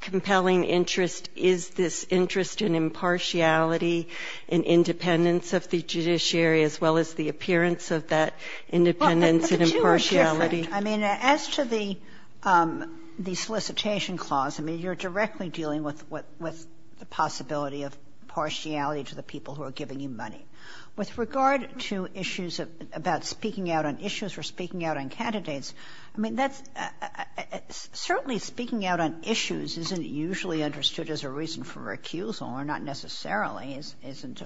compelling interest is this interest in impartiality and independence of the judiciary, as well as the appearance of that independence and impartiality. But the two are different. I mean, as to the solicitation clause, I mean, you're directly dealing with the possibility of partiality to the people who are giving you money. With regard to issues about speaking out on issues or speaking out on candidates, I mean, certainly speaking out on issues isn't usually understood as a reason for recusal, or not necessarily isn't.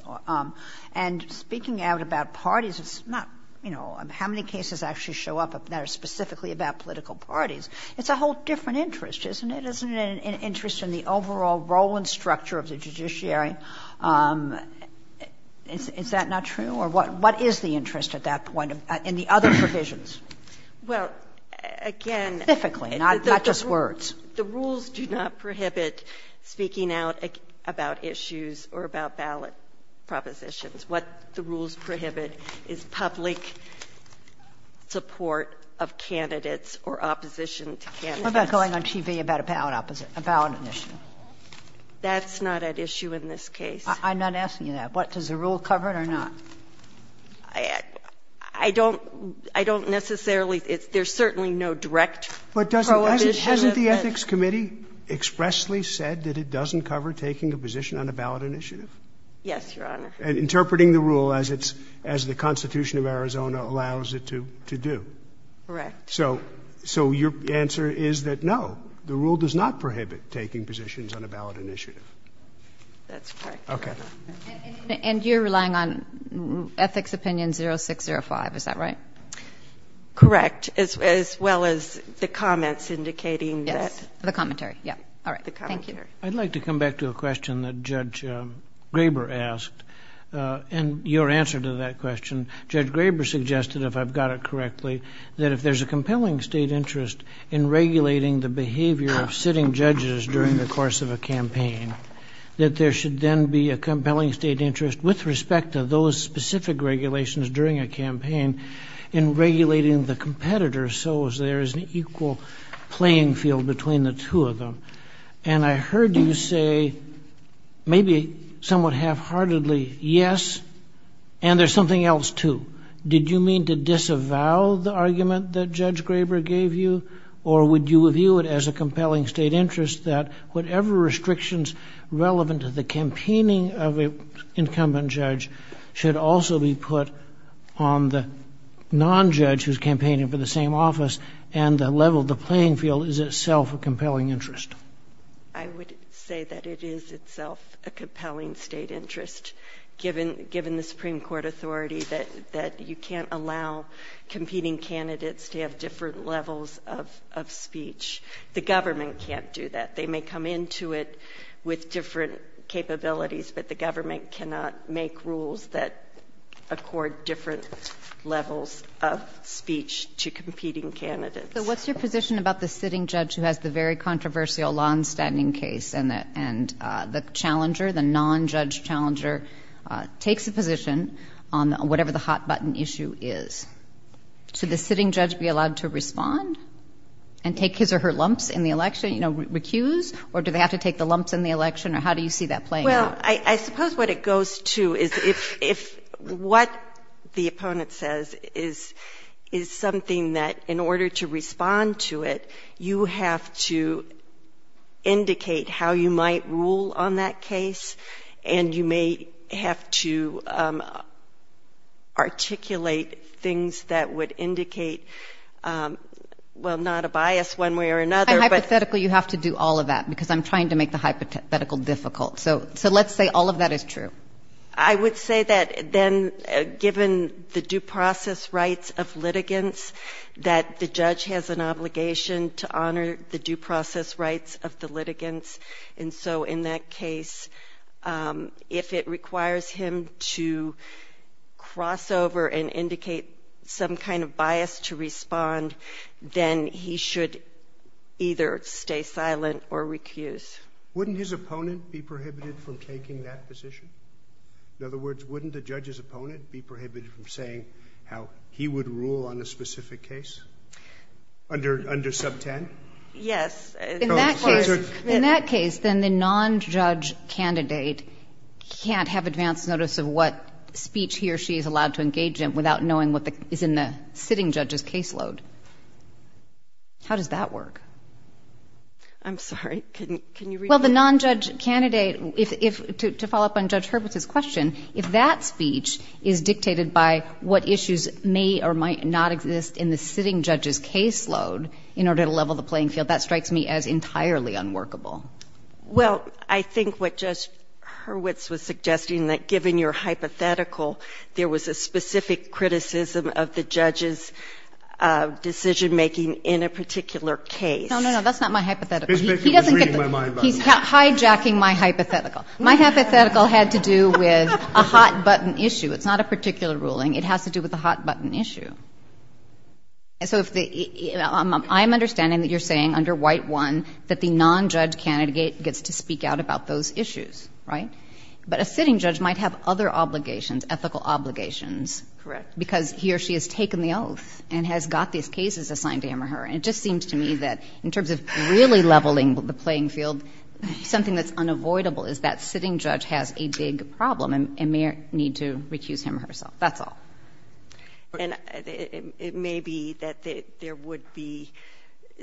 And speaking out about parties is not, you know, how many cases actually show up that are specifically about political parties. It's a whole different interest, isn't it? Isn't it an interest in the overall role and structure of the judiciary? Is that not true? Or what is the interest at that point in the other provisions? Specifically, not just words. Well, again, the rules do not prohibit speaking out about issues or about ballot propositions. What the rules prohibit is public support of candidates or opposition to candidates. We're not going on TV about a ballot opposition, a ballot initiative. That's not at issue in this case. I'm not asking you that. Does the rule cover it or not? I don't necessarily. There's certainly no direct prohibition of it. But doesn't the Ethics Committee expressly said that it doesn't cover taking a position on a ballot initiative? Yes, Your Honor. Interpreting the rule as the Constitution of Arizona allows it to do. Correct. So your answer is that no, the rule does not prohibit taking positions on a ballot initiative. That's correct. Okay. And you're relying on Ethics Opinion 0605, is that right? Correct, as well as the comments indicating that. Yes, the commentary. All right. Thank you. I'd like to come back to a question that Judge Graber asked. And your answer to that question, Judge Graber suggested, if I've got it correctly, that if there's a compelling state interest in regulating the behavior of sitting judges during the course of a campaign, that there should then be a compelling state interest with respect to those specific regulations during a campaign in regulating the competitors so as there is an equal playing field between the two of them. And I heard you say, maybe somewhat half-heartedly, yes, and there's something else, too. Did you mean to disavow the argument that Judge Graber gave you, or would you view it as a compelling state interest that whatever restrictions relevant to the campaigning of an incumbent judge should also be put on the non-judge who's campaigning for the same office and the level of the playing field is itself a compelling interest? I would say that it is itself a compelling state interest, given the Supreme Court authority that you can't allow competing candidates to have different levels of speech. The government can't do that. They may come into it with different capabilities, but the government cannot make rules that accord different levels of speech to competing candidates. So what's your position about the sitting judge who has the very controversial law and standing case and the challenger, the non-judge challenger takes a position on whatever the hot button issue is? Should the sitting judge be allowed to respond and take his or her lumps in the election, you know, recuse, or do they have to take the lumps in the election, or how do you see that playing out? Well, I suppose what it goes to is if what the opponent says is something that in order to respond to it, you have to indicate how you might rule on that case, and you may have to articulate things that would indicate, well, not a bias one way or another, but... And hypothetically, you have to do all of that, because I'm trying to make the hypothetical difficult. So let's say all of that is true. I would say that then, given the due process rights of litigants, that the judge has an obligation to honor the due process rights of the litigants, and so in that case, if it requires him to cross over and indicate some kind of bias to respond, then he should either stay silent or recuse. Wouldn't his opponent be prohibited from taking that position? In other words, wouldn't the judge's opponent be prohibited from saying how he would rule on a specific case under sub 10? Yes. In that case, then the non-judge candidate can't have advance notice of what speech he or she is allowed to engage in without knowing what is in the sitting judge's caseload. How does that work? I'm sorry. Well, the non-judge candidate, to follow up on Judge Hurwitz's question, if that speech is dictated by what issues may or might not exist in the sitting judge's caseload in order to level the playing field, that strikes me as entirely unworkable. Well, I think what Judge Hurwitz was suggesting, that given your hypothetical, there was a specific criticism of the judge's decision-making in a particular case. No, no, no. That's not my hypothetical. He's hijacking my hypothetical. My hypothetical had to do with a hot-button issue. It's not a particular ruling. It has to do with a hot-button issue. So I'm understanding that you're saying under White 1 that the non-judge candidate gets to speak out about those issues, right? But a sitting judge might have other obligations, ethical obligations. Correct. Because he or she has taken the oath and has got these cases assigned to him or her. And it just seems to me that in terms of really leveling the playing field, something that's unavoidable is that sitting judge has a big problem and may need to recuse him or herself. That's all. And it may be that there would be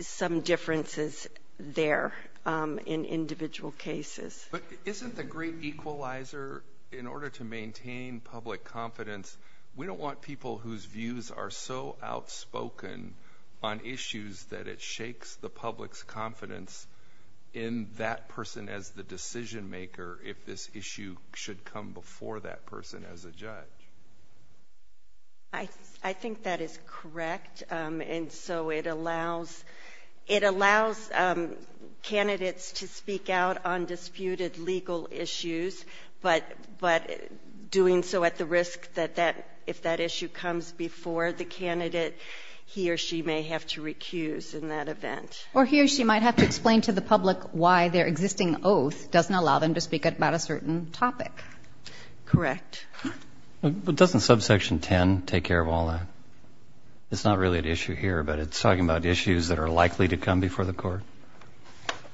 some differences there in individual cases. But isn't the great equalizer, in order to maintain public confidence, we shakes the public's confidence in that person as the decision-maker if this issue should come before that person as a judge? I think that is correct. And so it allows candidates to speak out on disputed legal issues, but doing so at the risk that if that issue comes before the candidate, he or she may have to recuse in that event. Or he or she might have to explain to the public why their existing oath doesn't allow them to speak about a certain topic. Correct. But doesn't subsection 10 take care of all that? It's not really an issue here, but it's talking about issues that are likely to come before the court.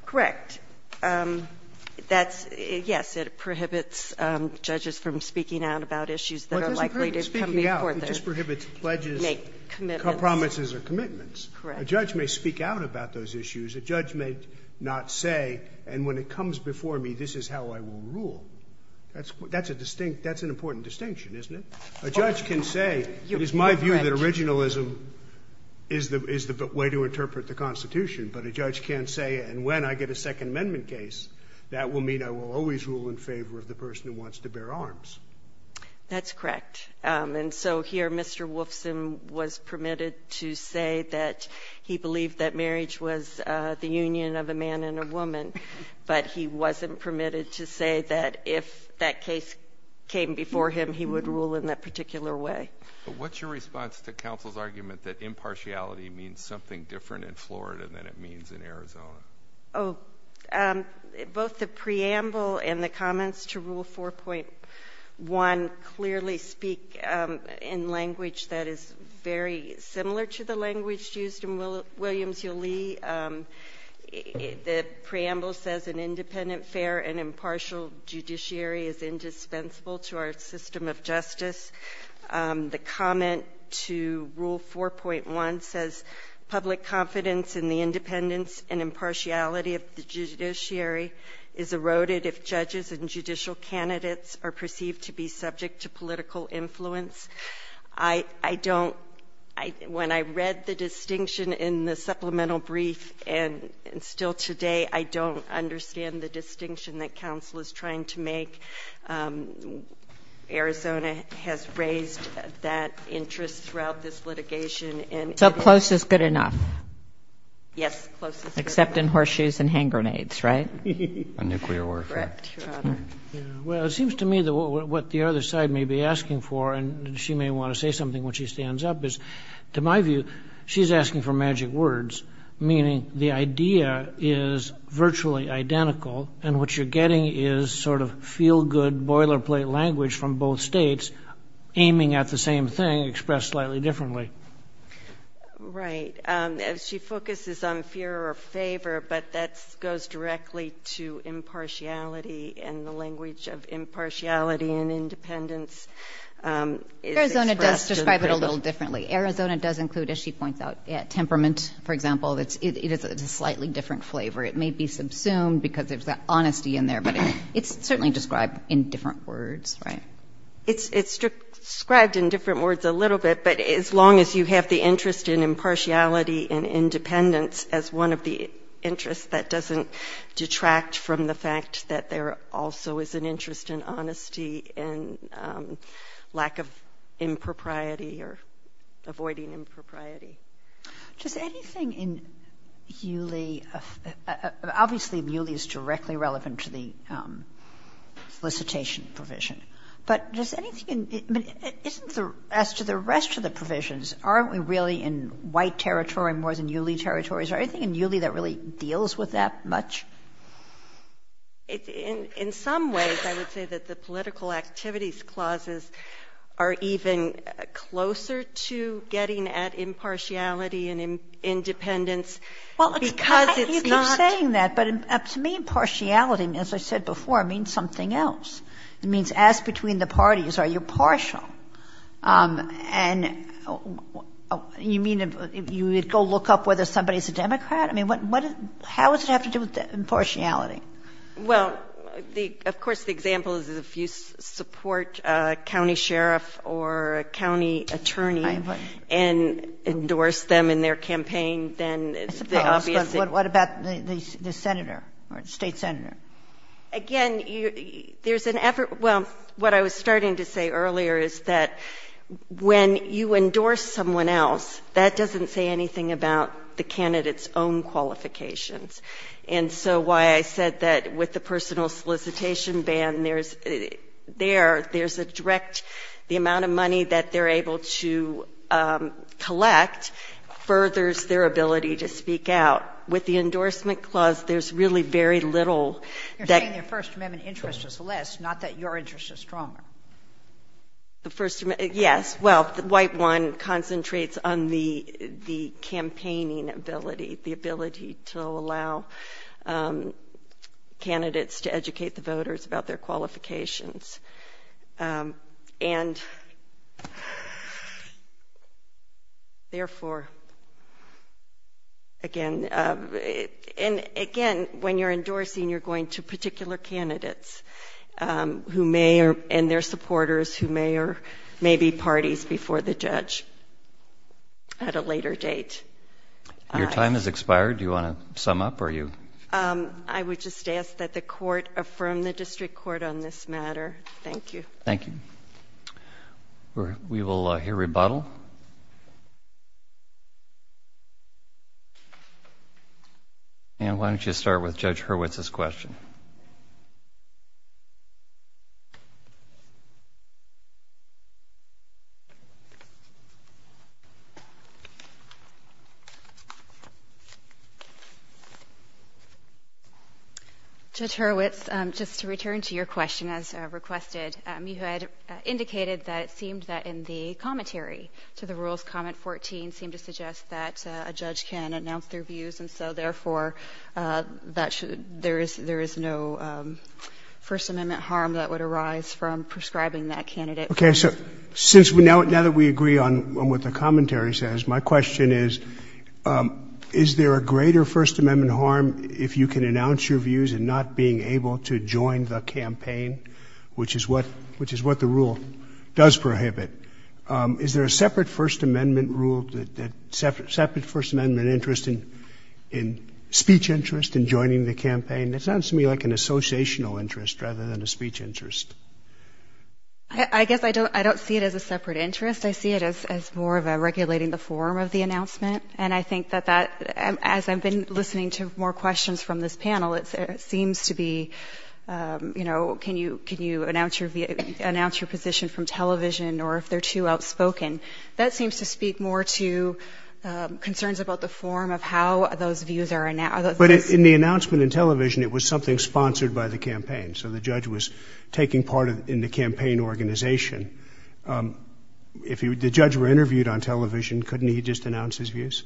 Correct. That's, yes, it prohibits judges from speaking out about issues that are likely to come before the court. But this prohibits pledges, promises, or commitments. Correct. A judge may speak out about those issues. A judge may not say, and when it comes before me, this is how I will rule. That's an important distinction, isn't it? A judge can say, it is my view that originalism is the way to interpret the Constitution. But a judge can't say, and when I get a Second Amendment case, that will mean I will always rule in favor of the person who wants to bear arms. That's correct. And so here, Mr. Wolfson was permitted to say that he believed that marriage was the union of a man and a woman. But he wasn't permitted to say that if that case came before him, he would rule in that particular way. What's your response to counsel's argument that impartiality means something different in Florida than it means in Arizona? Oh, both the preamble and the comments to Rule 4.1 clearly speak in language that is very similar to the language used in Williams v. Lee. The preamble says an independent, fair, and impartial judiciary is indispensable to our system of justice. The comment to Rule 4.1 says public confidence in the independence and impartiality of the judiciary is eroded if judges and judicial candidates are perceived to be subject to political influence. When I read the distinction in the supplemental brief, and still today, I don't understand the distinction that counsel is trying to make. Arizona has raised that interest throughout this litigation. Yes, close is good enough. Except in horseshoes and hand grenades, right? A nuclear warfare. Well, it seems to me that what the other side may be asking for, and she may want to say something when she stands up, is to my view, she's asking for magic words, meaning the idea is virtually identical, and what you're getting is sort of feel-good boilerplate language from both states aiming at the same thing expressed slightly differently. Right. She focuses on fear or favor, but that goes directly to impartiality and the language of impartiality and independence. Arizona does describe it a little differently. Arizona does include, as she points out, temperament, for example. It is a slightly different flavor. It may be subsumed because there's that honesty in there, but it's certainly described in different words, right? It's described in different words a little bit, but as long as you have the impartiality and independence as one of the interests, that doesn't detract from the fact that there also is an interest in honesty and lack of impropriety or avoiding impropriety. Does anything in Hewley – obviously, Hewley is directly relevant to the solicitation provision, but does anything – I mean, isn't the – as to the rest of the provisions, aren't we really in white territory more than Hewley territory? Is there anything in Hewley that really deals with that much? In some ways, I would say that the political activities clauses are even closer to getting at impartiality and independence because it's not – Well, you keep saying that, but to me, impartiality, as I said before, means something else. It means ask between the parties, are you partial? And you mean you would go look up whether somebody is a Democrat? I mean, what – how does it have to do with impartiality? Well, of course, the example is if you support a county sheriff or a county attorney and endorse them in their campaign, then the obvious thing – I suppose. What about the senator or state senator? Again, there's an effort – well, what I was starting to say earlier is that when you endorse someone else, that doesn't say anything about the candidate's own qualifications. And so why I said that with the personal solicitation ban, there's a direct – the amount of money that they're able to collect furthers their ability to speak out. With the endorsement clause, there's really very little that – You're saying their First Amendment interest is less, not that your interest is stronger. The First – yes. Well, the white one concentrates on the campaigning ability, the ability to allow candidates to educate the voters about their qualifications. And, therefore, again – and, again, when you're endorsing, you're going to particular candidates who may – and their supporters who may or may be parties before the judge at a later date. Your time has expired. Do you want to sum up, or are you – I would just ask that the court affirm the district court on this matter. Thank you. Thank you. We will hear rebuttal. And why don't you start with Judge Hurwitz's question. Judge Hurwitz, just to return to your question, as requested, you had indicated that it seemed that in the commentary to the rules, comment 14 seemed to suggest that a judge can announce their views, and so, therefore, that should – there is no First Amendment harm that would arise from prescribing that candidate. Okay. So since – now that we agree on what the commentary says, my question is, is there a greater First Amendment harm if you can announce your views and not being able to join the campaign, which is what the rule does prohibit? Is there a separate First Amendment rule that – separate First Amendment interest in speech interest in joining the campaign? That sounds to me like an associational interest rather than a speech interest. I guess I don't see it as a separate interest. I see it as more of a regulating the form of the announcement, and I think that as I've been listening to more questions from this panel, it seems to be, you know, can you announce your position from television or if they're too outspoken. That seems to speak more to concerns about the form of how those views are – But in the announcement in television, it was something sponsored by the campaign, so the judge was taking part in the campaign organization. If the judge were interviewed on television, couldn't he just announce his views?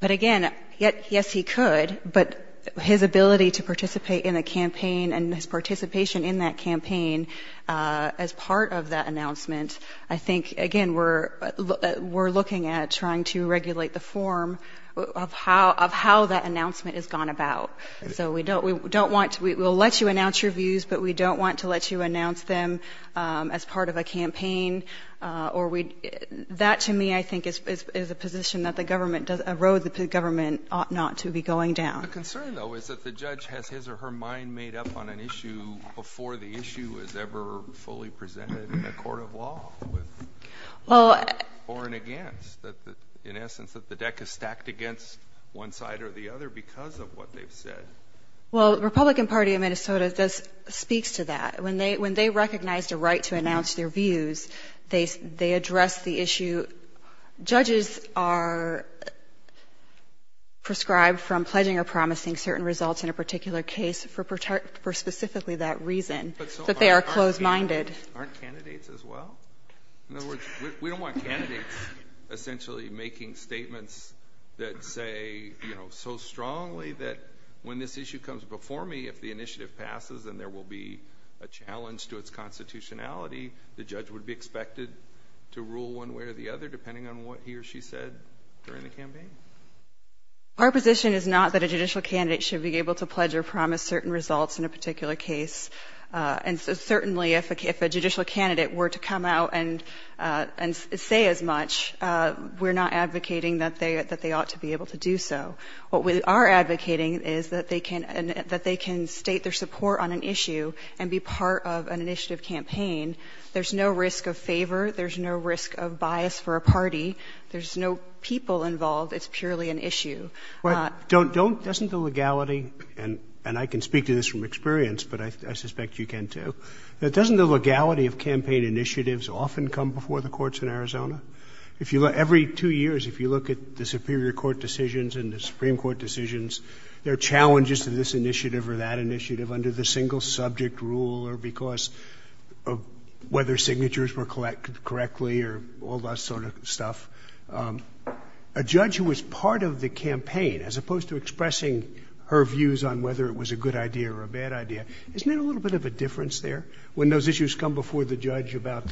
But again, yes, he could, but his ability to participate in a campaign and his participation in that campaign as part of that announcement, I think, again, we're looking at trying to regulate the form of how that announcement has gone about. So we don't want – we'll let you announce your views, but we don't want to let you as part of a campaign or we – that, to me, I think, is a position that the government – a road that the government ought not to be going down. The concern, though, is that the judge has his or her mind made up on an issue before the issue is ever fully presented in a court of law with – or against. In essence, that the deck is stacked against one side or the other because of what they've said. Well, the Republican Party of Minnesota speaks to that. When they recognize the right to announce their views, they address the issue. Judges are prescribed from pledging or promising certain results in a particular case for specifically that reason, that they are closed-minded. But so aren't candidates as well? In other words, we don't want candidates essentially making statements that say so strongly that when this issue comes before me, if the initiative passes and there will be a challenge to its constitutionality, the judge would be expected to rule one way or the other depending on what he or she said during the campaign? Our position is not that a judicial candidate should be able to pledge or promise certain results in a particular case. And so certainly if a judicial candidate were to come out and say as much, we're not advocating that they ought to be able to do so. What we are advocating is that they can state their support on an issue and be part of an initiative campaign. There's no risk of favor. There's no risk of bias for a party. There's no people involved. It's purely an issue. Doesn't the legality, and I can speak to this from experience, but I suspect you can too, that doesn't the legality of campaign initiatives often come before the courts in Arizona? Every two years if you look at the Superior Court decisions and the Supreme Court decisions, there are challenges to this initiative or that initiative under the single subject rule or because of whether signatures were collected correctly or all that sort of stuff. A judge who was part of the campaign, as opposed to expressing her views on whether it was a good idea or a bad idea, isn't there a little bit of a difference there when those issues come before the judge about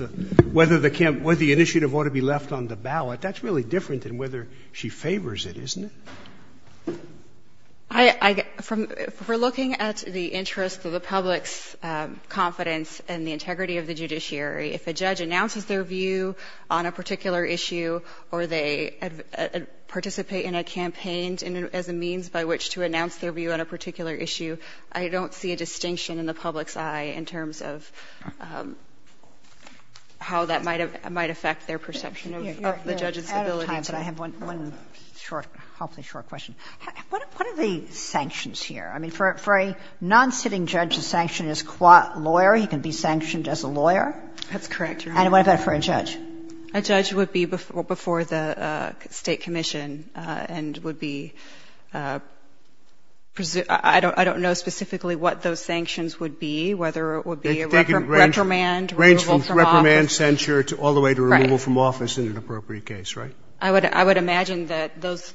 whether the initiative ought to be left on the ballot? That's really different than whether she favors it, isn't it? If we're looking at the interest of the public's confidence and the integrity of the judiciary, if a judge announces their view on a particular issue or they participate in a campaign as a means by which to announce their view on a particular issue, I don't see a distinction in the public's eye in terms of how that might affect their perception of the judge's ability to... You're out of time, but I have one hopefully short question. What are the sanctions here? I mean, for a non-sitting judge, a sanction is qua lawyer. He can be sanctioned as a lawyer? That's correct, Your Honor. And what about for a judge? A judge would be before the State Commission and would be... I don't know specifically what those sanctions would be, whether it would be a reprimand, removal from office. A range from reprimand, censure all the way to removal from office in an appropriate case, right? I would imagine that those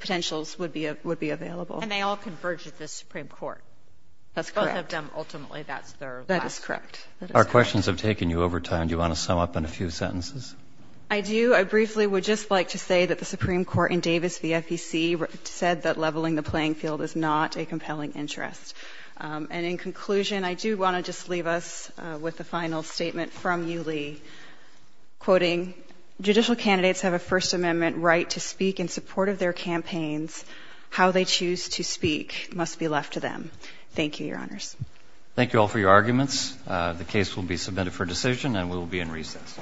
potentials would be available. And they all converge at the Supreme Court. That's correct. Both of them ultimately, that's their... That is correct. Our questions have taken you over time. Do you want to sum up in a few sentences? I do. I briefly would just like to say that the Supreme Court in Davis v. FEC said that leveling the playing field is not a compelling interest. And in conclusion, I do want to just leave us with the final statement from you, Lee, quoting, Judicial candidates have a First Amendment right to speak in support of their campaigns. How they choose to speak must be left to them. Thank you, Your Honors. Thank you all for your arguments. The case will be submitted for decision, and we will be in recess.